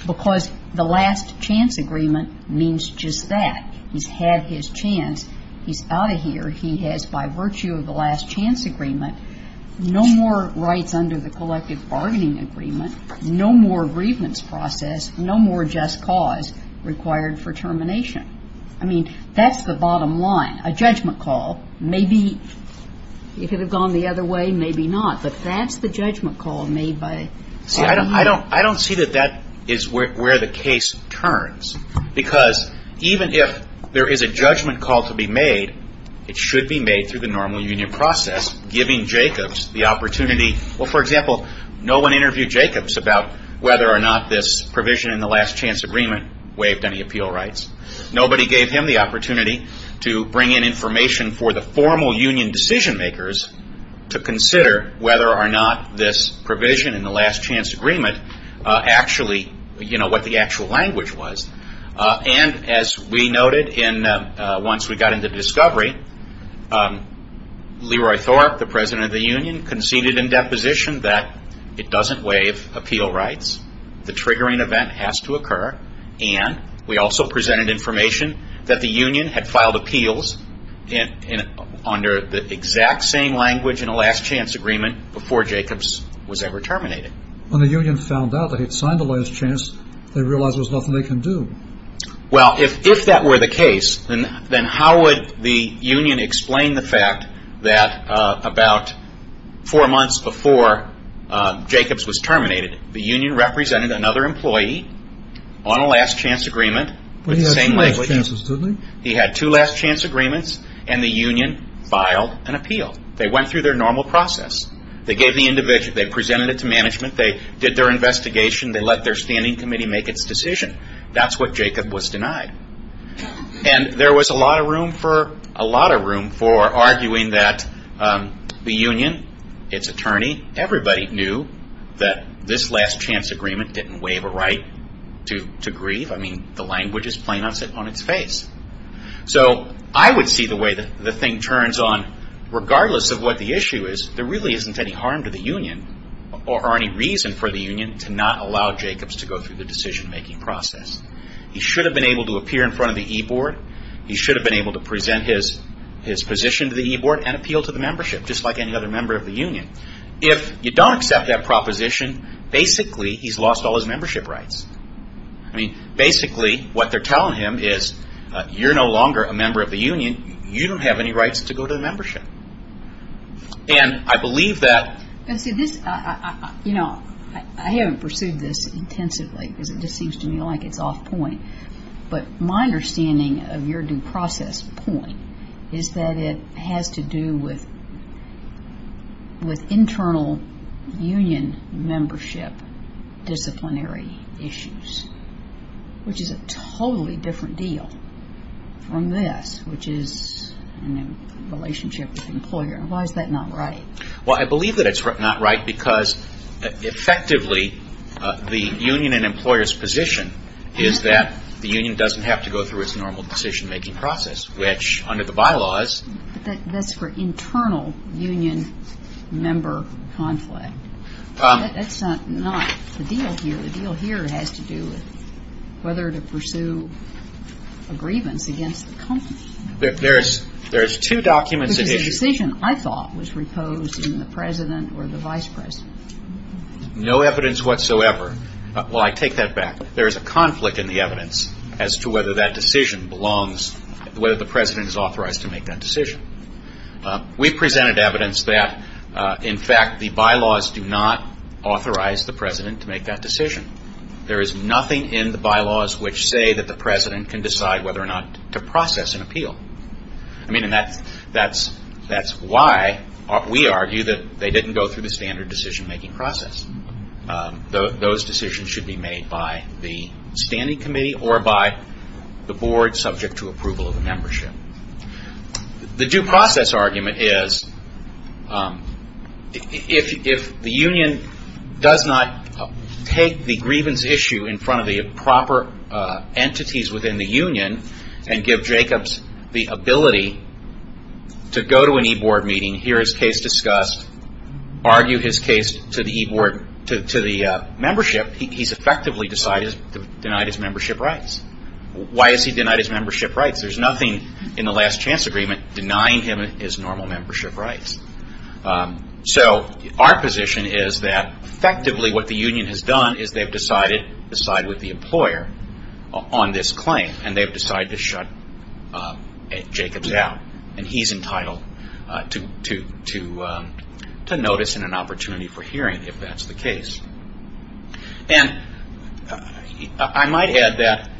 Because the last chance agreement means just that. He has had his chance. He is out of here. He has, by virtue of the last chance agreement, no more rights under the collective bargaining agreement. No more grievance process. No more just cause required for termination. I mean, that is the bottom line. A judgment call, maybe if it had gone the other way, maybe not. But that is the judgment call made by the union. I don't see that that is where the case turns. Because even if there is a judgment call to be made, it should be made through the normal union process, giving Jacobs the opportunity. Well, for example, no one interviewed Jacobs about whether or not this provision in the last chance agreement waived any appeal rights. Nobody gave him the opportunity to bring in information for the formal union decision makers to consider whether or not this provision in the last chance agreement actually, you know, what the actual language was. And as we noted once we got into discovery, Leroy Thorpe, the president of the union, conceded in deposition that it doesn't waive appeal rights. The triggering event has to occur. And we also presented information that the union had filed appeals under the exact same language in the last chance agreement before Jacobs was ever terminated. When the union found out that he had signed the last chance, they realized there was nothing they could do. Well, if that were the case, then how would the union explain the fact that about four months before Jacobs was terminated, the union represented another employee on a last chance agreement. He had two last chance agreements, and the union filed an appeal. They went through their normal process. They gave the individual. They presented it to management. They did their investigation. They let their standing committee make its decision. That is what Jacobs was denied. And there was a lot of room for arguing that the union, its attorney, everybody knew that this last chance agreement didn't waive a right to grieve. I mean, the language is plain on its face. So, I would see the way that the thing turns on, regardless of what the issue is, there really isn't any harm to the union or any reason for the union to not allow Jacobs to go through the decision-making process. He should have been able to appear in front of the e-board. He should have been able to present his position to the e-board and appeal to the membership, just like any other member of the union. If you don't accept that proposition, basically he has lost all his membership rights. I mean, basically what they are telling him is, you are no longer a member of the union. You don't have any rights to go to the membership. And I believe that- I haven't pursued this intensively because it just seems to me like it is off point. But my understanding of your due process point is that it has to do with internal union membership disciplinary issues, which is a totally different deal from this, which is a relationship with the employer. Why is that not right? Because, effectively, the union and employer's position is that the union doesn't have to go through its normal decision-making process, which under the bylaws- But that is for internal union member conflict. That is not the deal here. The deal here has to do with whether to pursue a grievance against the company. There are two documents- No evidence whatsoever. Well, I take that back. There is a conflict in the evidence as to whether that decision belongs- Whether the president is authorized to make that decision. We presented evidence that, in fact, the bylaws do not authorize the president to make that decision. There is nothing in the bylaws which say that the president can decide whether or not to process an appeal. That is why we argue that they did not go through the standard decision-making process. Those decisions should be made by the standing committee or by the board subject to approval of the membership. The due process argument is, if the union does not take the grievance issue in front of the proper entities within the union, and give Jacobs the ability to go to an e-board meeting, hear his case discussed, argue his case to the membership, he has effectively denied his membership rights. Why has he denied his membership rights? Well, there is nothing in the last chance agreement denying him his normal membership rights. So, our position is that effectively what the union has done is they have decided with the employer on this claim, and they have decided to shut Jacobs out. And he is entitled to notice and an opportunity for hearing if that is the case. And I might add that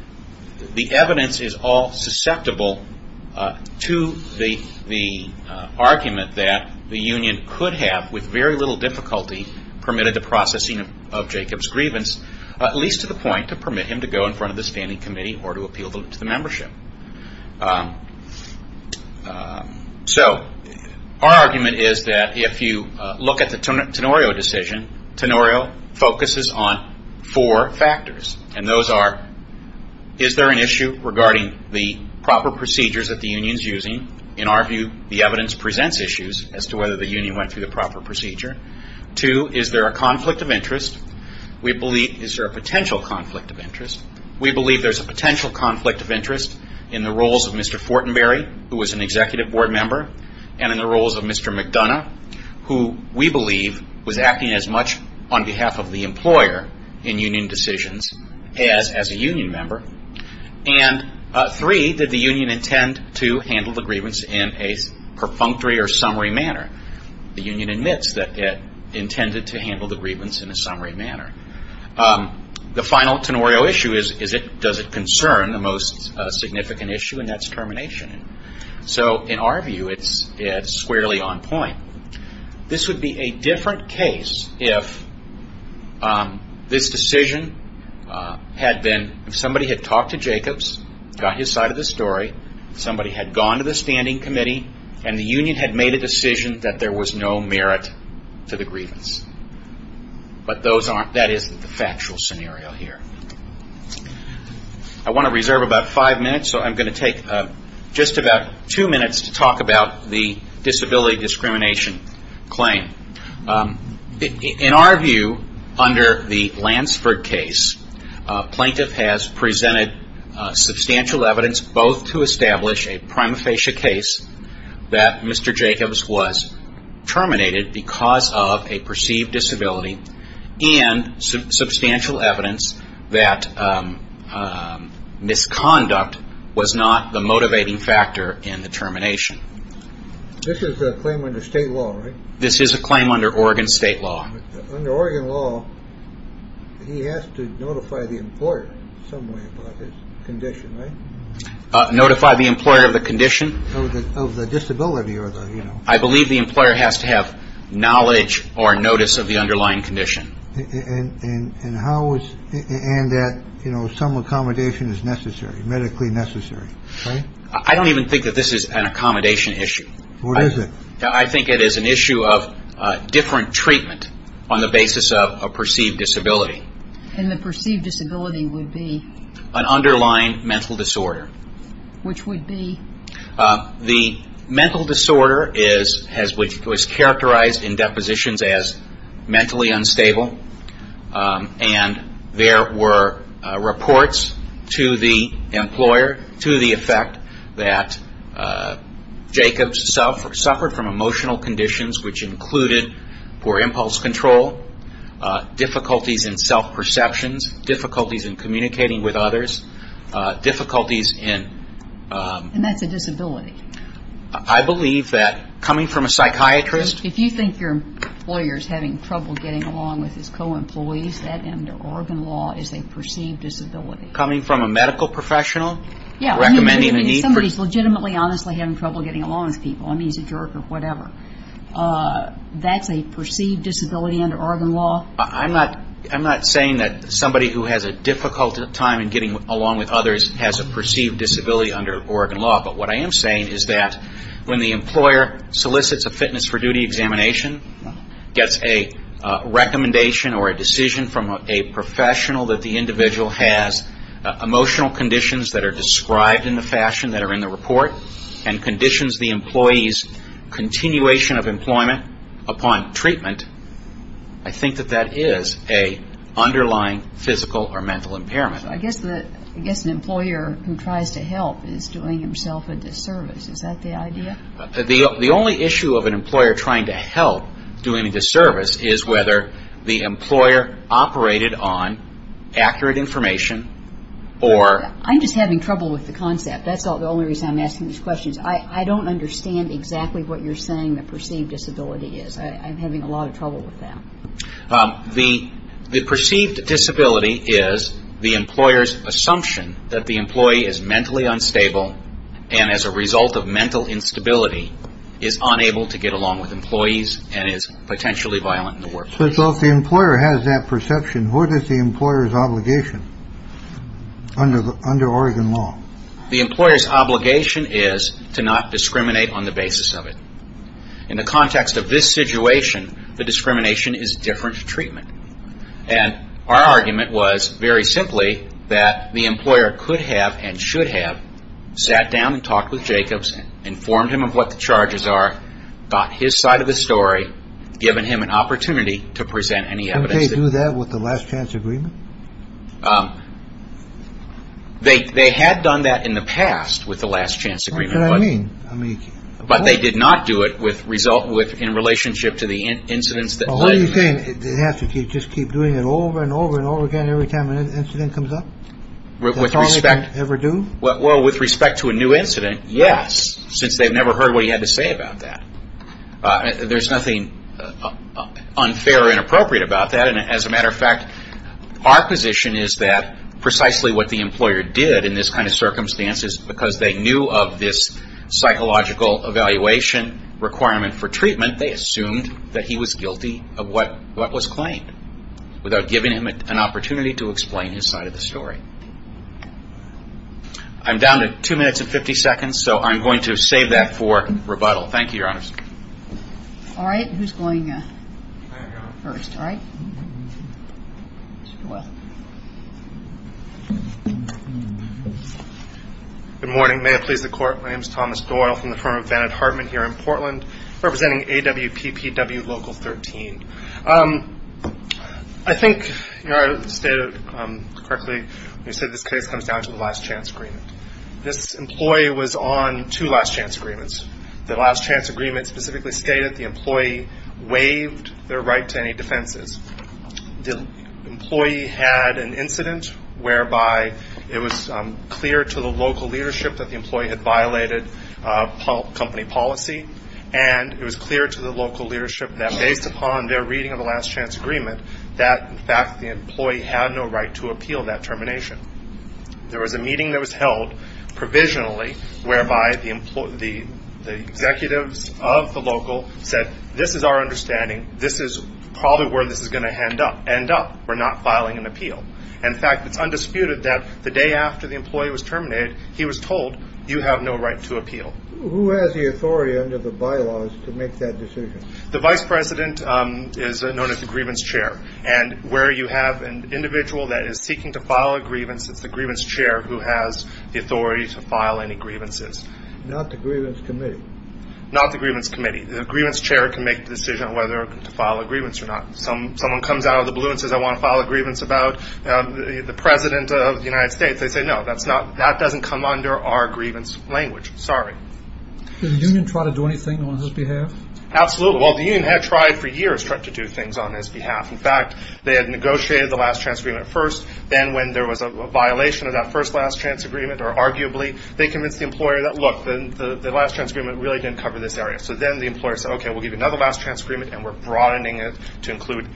the evidence is all susceptible to the argument that the union could have, with very little difficulty, permitted the processing of Jacobs' grievance, at least to the point to permit him to go in front of the standing committee or to appeal to the membership. So, our argument is that if you look at the Tenorio decision, Tenorio focuses on four factors. And those are, is there an issue regarding the proper procedures that the union is using? In our view, the evidence presents issues as to whether the union went through the proper procedure. Two, is there a conflict of interest? We believe, is there a potential conflict of interest? We believe there is a potential conflict of interest in the roles of Mr. Fortenberry, who was an executive board member, and in the roles of Mr. McDonough, who we believe was acting as much on behalf of the employer in union decisions as a union member. And three, did the union intend to handle the grievance in a perfunctory or summary manner? The union admits that it intended to handle the grievance in a summary manner. The final Tenorio issue is, does it concern the most significant issue, and that is termination. So, in our view, it is squarely on point. This would be a different case if this decision had been, if somebody had talked to Jacobs, got his side of the story, somebody had gone to the standing committee, and the union had made a decision that there was no merit to the grievance. But that is the factual scenario here. I want to reserve about five minutes, so I'm going to take just about two minutes to talk about the disability discrimination claim. In our view, under the Lansford case, plaintiff has presented substantial evidence, both to establish a prima facie case that Mr. Jacobs was terminated because of a perceived disability, and substantial evidence that misconduct was not the motivating factor in the termination. This is a claim under state law, right? This is a claim under Oregon state law. Under Oregon law, he has to notify the employer in some way about the condition, right? Notify the employer of the condition? Of the disability or the, you know. I believe the employer has to have knowledge or notice of the underlying condition. And how is, and that, you know, some accommodation is necessary, medically necessary. I don't even think that this is an accommodation issue. What is it? I think it is an issue of different treatment on the basis of a perceived disability. And the perceived disability would be? An underlying mental disorder. Which would be? The mental disorder is, has, was characterized in depositions as mentally unstable. And there were reports to the employer to the effect that Jacobs suffered from emotional conditions which included poor impulse control, difficulties in self-perceptions, difficulties in communicating with others, difficulties in. And that's a disability. I believe that coming from a psychiatrist. If you think your employer is having trouble getting along with his co-employees, that under Oregon law is a perceived disability. Coming from a medical professional? Yeah. Recommending the need for. Somebody is legitimately, honestly having trouble getting along with people. I mean, he's a jerk or whatever. That's a perceived disability under Oregon law? I'm not saying that somebody who has a difficult time in getting along with others has a perceived disability under Oregon law. But what I am saying is that when the employer solicits a fitness for duty examination, gets a recommendation or a decision from a professional that the individual has emotional conditions that are described in the fashion that are in the report, and conditions the employee's continuation of employment upon treatment, I think that that is an underlying physical or mental impairment. I guess an employer who tries to help is doing himself a disservice. Is that the idea? The only issue of an employer trying to help doing a disservice is whether the employer operated on accurate information or- I'm just having trouble with the concept. That's the only reason I'm asking these questions. I don't understand exactly what you're saying a perceived disability is. I'm having a lot of trouble with that. The perceived disability is the employer's assumption that the employee is mentally unstable and as a result of mental instability is unable to get along with employees and is potentially violent in the workplace. So if the employer has that perception, what is the employer's obligation under Oregon law? The employer's obligation is to not discriminate on the basis of it. In the context of this situation, the discrimination is different treatment. And our argument was very simply that the employer could have and should have sat down and talked with Jacobs, informed him of what the charges are, got his side of the story, given him an opportunity to present any evidence. Can they do that with the last chance agreement? They had done that in the past with the last chance agreement. What do you mean? But they did not do it in relationship to the incidents that led to that. What are you saying? They have to just keep doing it over and over and over again every time an incident comes up? That's all they can ever do? Well, with respect to a new incident, yes, since they've never heard what he had to say about that. There's nothing unfair or inappropriate about that. And as a matter of fact, our position is that precisely what the employer did in this kind of circumstance is because they knew of this psychological evaluation requirement for treatment, they assumed that he was guilty of what was claimed, without giving him an opportunity to explain his side of the story. I'm down to two minutes and 50 seconds, so I'm going to save that for rebuttal. Thank you, Your Honor. Good morning. May it please the Court. My name is Thomas Doyle. I'm from the firm of Bennett Hartman here in Portland, representing AWPPW Local 13. I think I said it correctly when I said this case comes down to the last chance agreement. This employee was on two last chance agreements. The last chance agreement specifically stated the employee waived their right to any defenses. The employee had an incident whereby it was clear to the local leadership that the employee had violated company policy, and it was clear to the local leadership that based upon their reading of the last chance agreement, that in fact the employee had no right to appeal that termination. There was a meeting that was held provisionally, whereby the executives of the local said, this is our understanding. This is probably where this is going to end up. We're not filing an appeal. In fact, it's undisputed that the day after the employee was terminated, he was told, you have no right to appeal. Who has the authority under the bylaws to make that decision? The vice president is known as the grievance chair, and where you have an individual that is seeking to file a grievance, it's the grievance chair who has the authority to file any grievances. Not the grievance committee? Not the grievance committee. The grievance chair can make the decision whether to file a grievance or not. Someone comes out of the blue and says, I want to file a grievance about the president of the United States. They say, no, that doesn't come under our grievance language. Sorry. Did the union try to do anything on his behalf? Absolutely. Well, the union had tried for years to do things on his behalf. In fact, they had negotiated the last chance agreement first. Then when there was a violation of that first last chance agreement, or arguably, they convinced the employer that, look, the last chance agreement really didn't cover this area. So then the employer said, okay, we'll give you another last chance agreement, and we're broadening it to include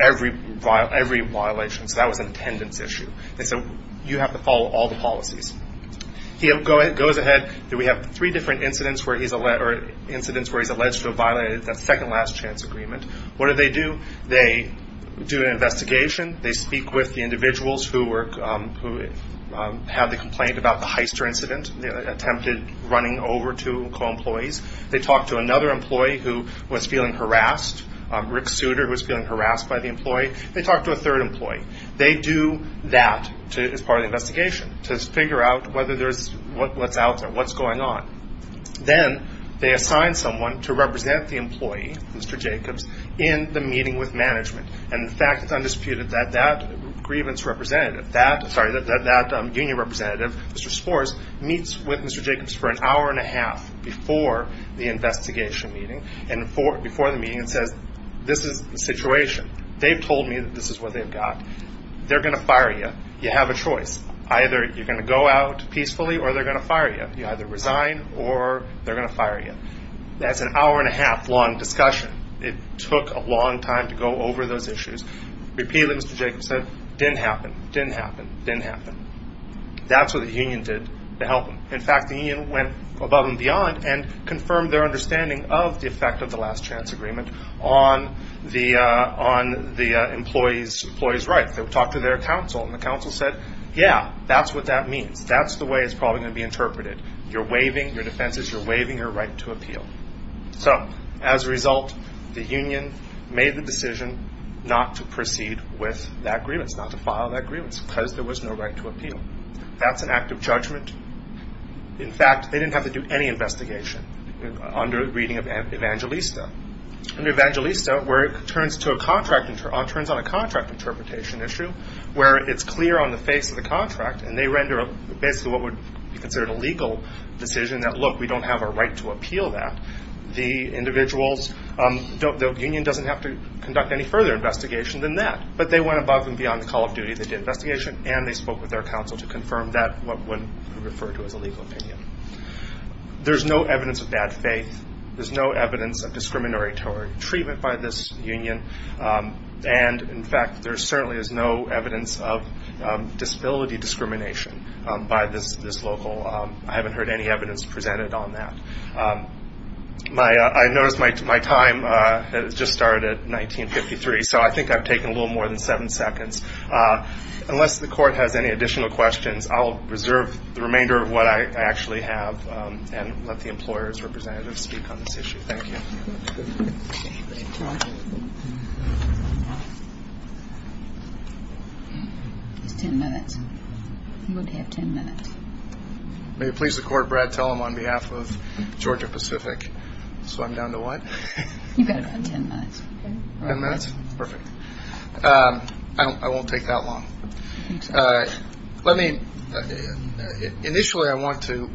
every violation, because that was an attendance issue. They said, you have to follow all the policies. He goes ahead. We have three different incidents where he's alleged to have violated that second last chance agreement. What do they do? They do an investigation. They speak with the individuals who have the complaint about the Heister incident, attempted running over to co-employees. They talk to another employee who was feeling harassed, Rick Souter, who was feeling harassed by the employee. They talk to a third employee. They do that as part of the investigation, to figure out what's out there, what's going on. Then they assign someone to represent the employee, Mr. Jacobs, in the meeting with management, and the fact is undisputed that that grievance representative, that union representative, Mr. Spores, meets with Mr. Jacobs for an hour and a half before the investigation meeting, and before the meeting says, this is the situation. They've told me that this is what they've got. They're going to fire you. You have a choice. Either you're going to go out peacefully or they're going to fire you. You either resign or they're going to fire you. That's an hour and a half long discussion. It took a long time to go over those issues. Repeatedly, Mr. Jacobs said, didn't happen, didn't happen, didn't happen. That's what the union did to help him. In fact, the union went above and beyond and confirmed their understanding of the effect of the last chance agreement on the employee's right. They talked to their counsel, and the counsel said, yeah, that's what that means. That's the way it's probably going to be interpreted. You're waiving your defenses. You're waiving your right to appeal. So, as a result, the union made the decision not to proceed with that grievance, not to file that grievance because there was no right to appeal. That's an act of judgment. In fact, they didn't have to do any investigation under the reading of Evangelista. Under Evangelista, where it turns on a contract interpretation issue where it's clear on the face of the contract, and they render what would be considered a legal decision, that look, we don't have a right to appeal that. The union doesn't have to conduct any further investigation than that. But they went above and beyond the call of duty. They did investigation, and they spoke with their counsel to confirm that, what would be referred to as a legal opinion. There's no evidence of bad faith. There's no evidence of discriminatory treatment by this union. And, in fact, there certainly is no evidence of disability discrimination by this local. I haven't heard any evidence presented on that. I noticed my time has just started at 1953, so I think I've taken a little more than seven seconds. Unless the court has any additional questions, I'll reserve the remainder of what I actually have and let the employer's representatives speak on this issue. Thank you. May it please the court, Brad Tellem on behalf of Georgia Pacific. So I'm down to what? You've got about ten minutes. Ten minutes? Perfect. I won't take that long. Let me, initially I want to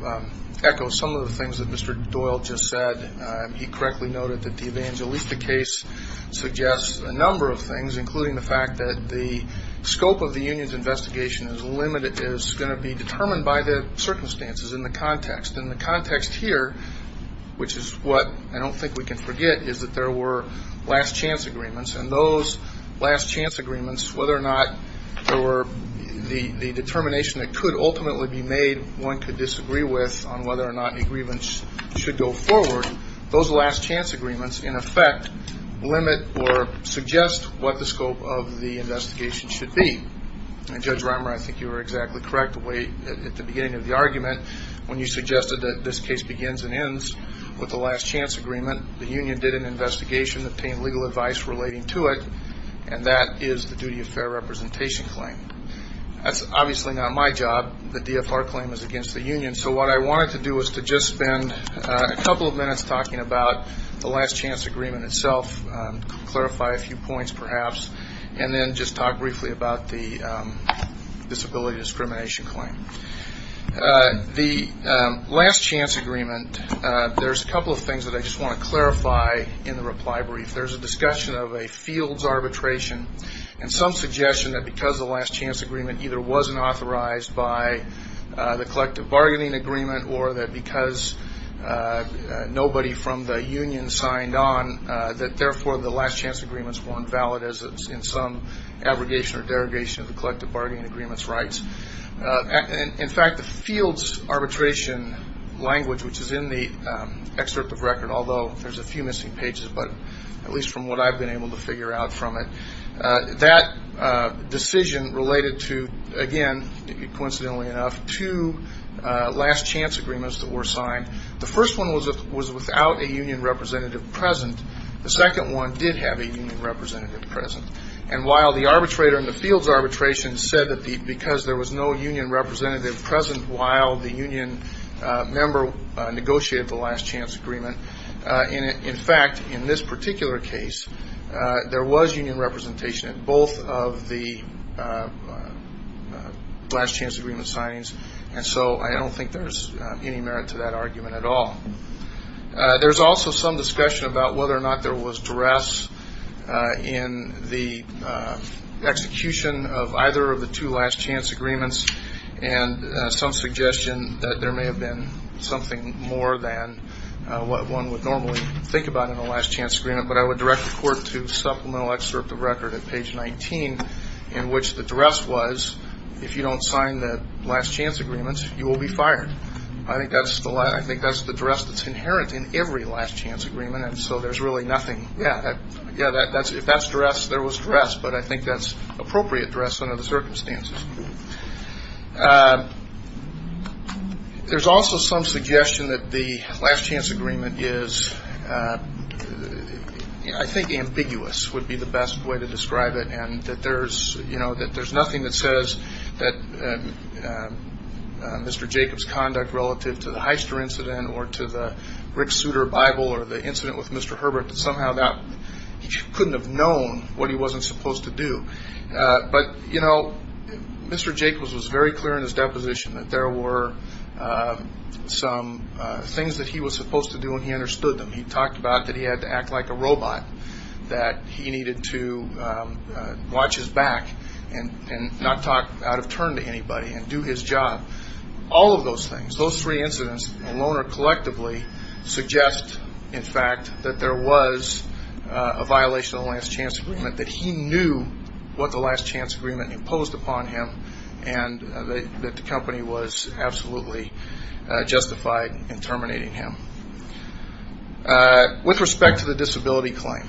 echo some of the things that Mr. Doyle just said. He correctly noted that the Evangelista case suggests a number of things, including the fact that the scope of the union's investigation is limited, is going to be determined by the circumstances in the context. And the context here, which is what I don't think we can forget, is that there were last chance agreements. And those last chance agreements, whether or not there were the determination that could ultimately be made one could disagree with on whether or not agreements should go forward, those last chance agreements, in effect, limit or suggest what the scope of the investigation should be. And, Judge Reimer, I think you were exactly correct at the beginning of the argument when you suggested that this case begins and ends with the last chance agreement. The union did an investigation, obtained legal advice relating to it, and that is the duty of fair representation claim. That's obviously not my job. The DFR claim is against the union. So what I wanted to do was to just spend a couple of minutes talking about the last chance agreement itself, clarify a few points perhaps, and then just talk briefly about the disability discrimination claim. The last chance agreement, there's a couple of things that I just want to clarify in the reply brief. There's a discussion of a fields arbitration and some suggestion that because the last chance agreement either wasn't authorized by the collective bargaining agreement or that because nobody from the union signed on that, therefore, the last chance agreement is more than valid in some abrogation or derogation of the collective bargaining agreement's rights. In fact, the fields arbitration language, which is in the excerpt of the record, although there's a few missing pages, but at least from what I've been able to figure out from it, that decision related to, again, coincidentally enough, two last chance agreements that were signed. The first one was without a union representative present. The second one did have a union representative present. And while the arbitrator in the fields arbitration said that because there was no union representative present while the union member negotiated the last chance agreement, in fact, in this particular case, there was union representation in both of the last chance agreement signings, and so I don't think there's any merit to that argument at all. There's also some discussion about whether or not there was duress in the execution of either of the two last chance agreements and some suggestion that there may have been something more than what one would normally think about in a last chance agreement, but I would direct the court to supplemental excerpt of record at page 19 in which the duress was, if you don't sign the last chance agreements, you will be fired. I think that's the duress that's inherent in every last chance agreement, and so there's really nothing- yeah, that's duress, there was duress, but I think that's appropriate duress under the circumstances. There's also some suggestion that the last chance agreement is, I think, ambiguous would be the best way to describe it, and that there's nothing that says that Mr. Jacobs' conduct relative to the Heister incident or to the Rick Souter Bible or the incident with Mr. Herbert, but somehow that he couldn't have known what he wasn't supposed to do. But, you know, Mr. Jacobs was very clear in his deposition that there were some things that he was supposed to do and he understood them. He talked about that he had to act like a robot, that he needed to watch his back and not talk out of turn to anybody and do his job. All of those things, those three incidents alone or collectively suggest, in fact, that there was a violation of the last chance agreement, that he knew what the last chance agreement imposed upon him and that the company was absolutely justified in terminating him. With respect to the disability claim,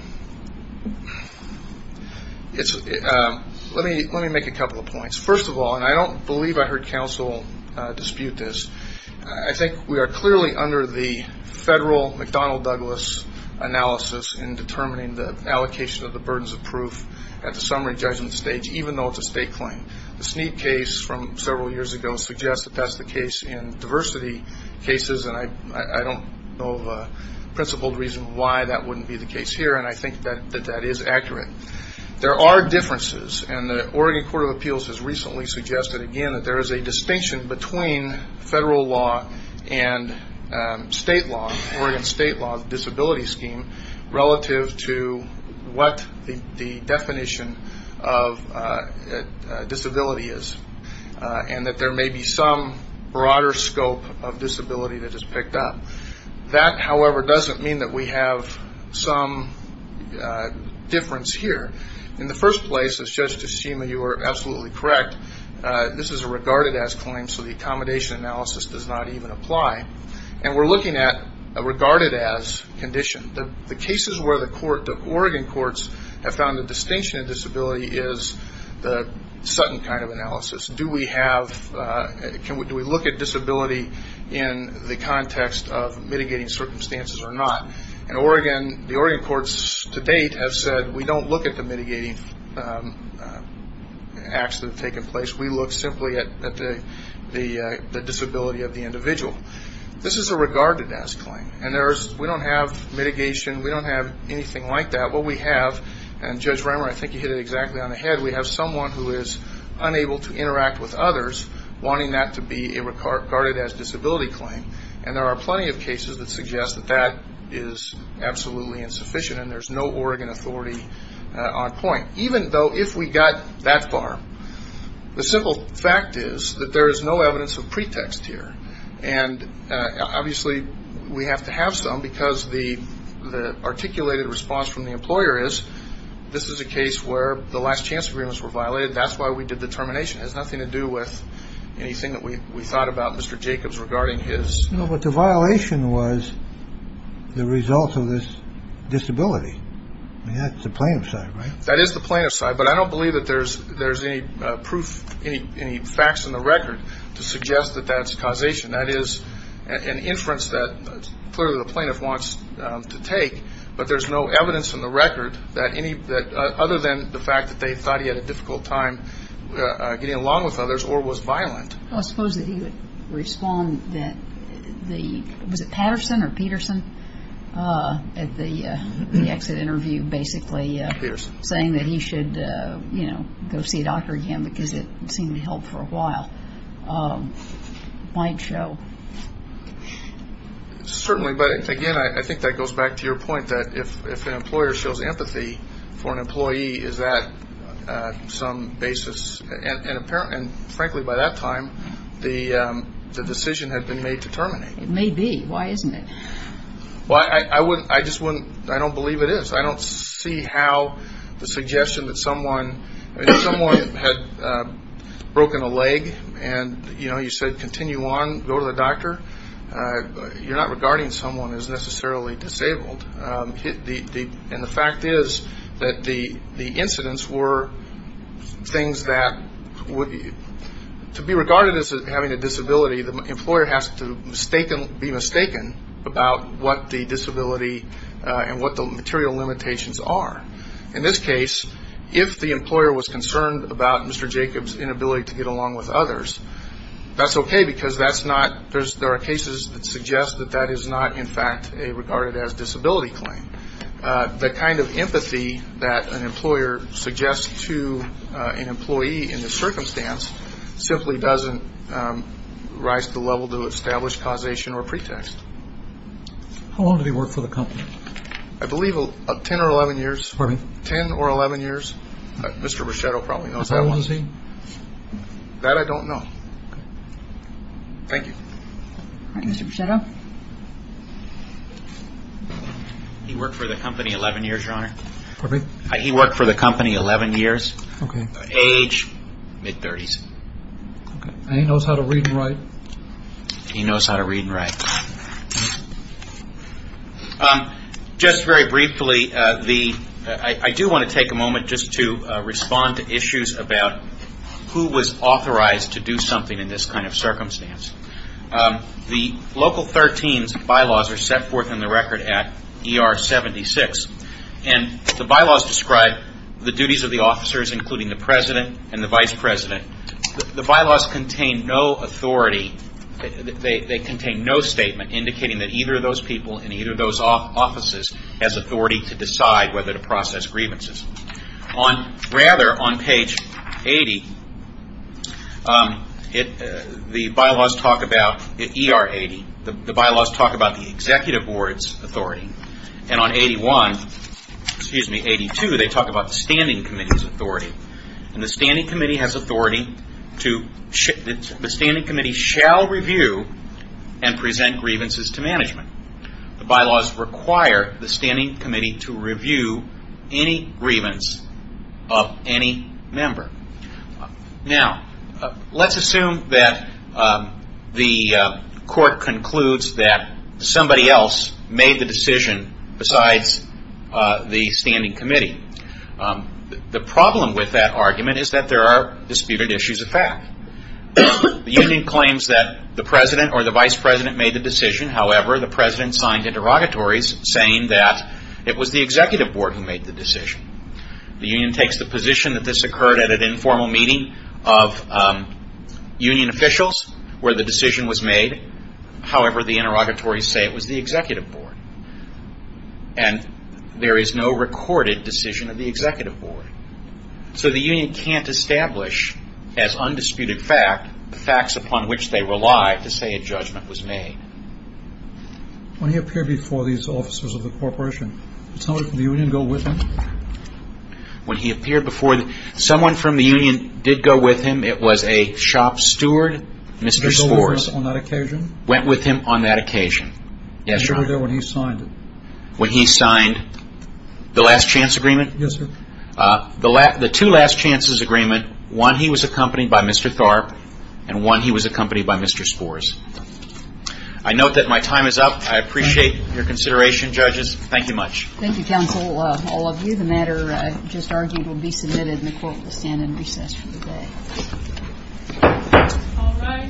let me make a couple of points. First of all, and I don't believe I heard counsel dispute this, I think we are clearly under the federal McDonnell-Douglas analysis in determining the allocation of the burdens of proof at the summary judgment stage, even though it's a state claim. The Snead case from several years ago suggests that that's the case in diversity cases, and I don't know of a principled reason why that wouldn't be the case here, and I think that that is accurate. There are differences, and the Oregon Court of Appeals has recently suggested again that there is a distinction between federal law and Oregon state law disability scheme relative to what the definition of disability is, and that there may be some broader scope of disability that is picked up. That, however, doesn't mean that we have some difference here. In the first place, as Judge Tashima, you are absolutely correct, this is a regarded-as claim, so the accommodation analysis does not even apply, and we are looking at a regarded-as condition. The cases where the Oregon courts have found the distinction of disability is the Sutton kind of analysis. Do we look at disability in the context of mitigating circumstances or not? The Oregon courts to date have said that we don't look at the mitigating acts that have taken place, we look simply at the disability of the individual. This is a regarded-as claim, and we don't have mitigation, we don't have anything like that. What we have, and Judge Reimer, I think you hit it exactly on the head, we have someone who is unable to interact with others wanting that to be a regarded-as disability claim, and there are plenty of cases that suggest that that is absolutely insufficient, and there is no Oregon authority on point. Even though, if we got that far, the simple fact is that there is no evidence of pretext here. Obviously, we have to have some, because the articulated response from the employer is, this is a case where the last chance agreements were violated, that is why we did the termination. It has nothing to do with anything that we thought about Mr. Jacobs regarding his... No, but the violation was the result of this disability, and that's the plaintiff's side, right? That is the plaintiff's side, but I don't believe that there's any proof, any facts in the record to suggest that that's causation. That is an inference that clearly the plaintiff wants to take, but there's no evidence in the record that any, that other than the fact that they thought he had a difficult time getting along with others or was violent. I suppose that he would respond that the, was it Patterson or Peterson, at the exit interview basically saying that he should, you know, go see a doctor again because it seemed to help for a while. Might show. Certainly, but again, I think that goes back to your point that if an employer shows empathy for an employee, is that some basis, and apparently, and frankly by that time, the decision had been made to terminate. It may be. Why isn't it? Well, I wouldn't, I just wouldn't, I don't believe it is. I don't see how the suggestion that someone, if someone had broken a leg and, you know, you said continue on, go to the doctor, you're not regarding someone as necessarily disabled. And the fact is that the incidents were things that would be, to be regarded as having a disability, the employer has to be mistaken about what the disability and what the material limitations are. In this case, if the employer was concerned about Mr. Jacobs' inability to get along with others, that's okay because that's not, there are cases that suggest that that is not, in fact, a regarded as disability claim. The kind of empathy that an employer suggests to an employee in this circumstance simply doesn't rise to the level to establish causation or pretext. How long did he work for the company? I believe 10 or 11 years. Pardon me? 10 or 11 years. Mr. Brichetto probably knows that one. How long was he? That I don't know. Thank you. Mr. Brichetto? He worked for the company 11 years, Your Honor. Pardon me? He worked for the company 11 years. Age? Mid-30s. And he knows how to read and write? He knows how to read and write. Just very briefly, I do want to take a moment just to respond to issues about who was authorized to do something in this kind of circumstance. The Local 13's bylaws are set forth in the Record Act ER 76, and the bylaws describe the duties of the officers, including the president and the vice president. The bylaws contain no authority-they contain no statement indicating that either of those people in either of those offices has authority to decide whether to process grievances. Rather, on page 80, the bylaws talk about-in ER 80, the bylaws talk about the executive board's authority. And on 81-excuse me, 82, they talk about the standing committee's authority. And the standing committee has authority to-the standing committee shall review and present grievances to management. The bylaws require the standing committee to review any grievance of any member. Now, let's assume that the court concludes that somebody else made the decision besides the standing committee. The problem with that argument is that there are disputed issues of fact. The union claims that the president or the vice president made the decision. However, the president signed interrogatories saying that it was the executive board who made the decision. The union takes the position that this occurred at an informal meeting of union officials where the decision was made. However, the interrogatories say it was the executive board. And there is no recorded decision of the executive board. So, the union can't establish as undisputed fact the facts upon which they rely to say a judgment was made. When he appeared before-someone from the union did go with him. It was a shop steward, Mr. Spors. Went with him on that occasion. Yes, sir. He was there when he signed it. When he signed the last chance agreement? Yes, sir. The two last chances agreement, one he was accompanied by Mr. Tharp and one he was accompanied by Mr. Spors. I note that my time is up. I appreciate your consideration, judges. Thank you much. Thank you, counsel. All of you, the matter just argued will be submitted and the court will stand in recess for the day. All rise. Mr. Spors, if you would like to return to your chair.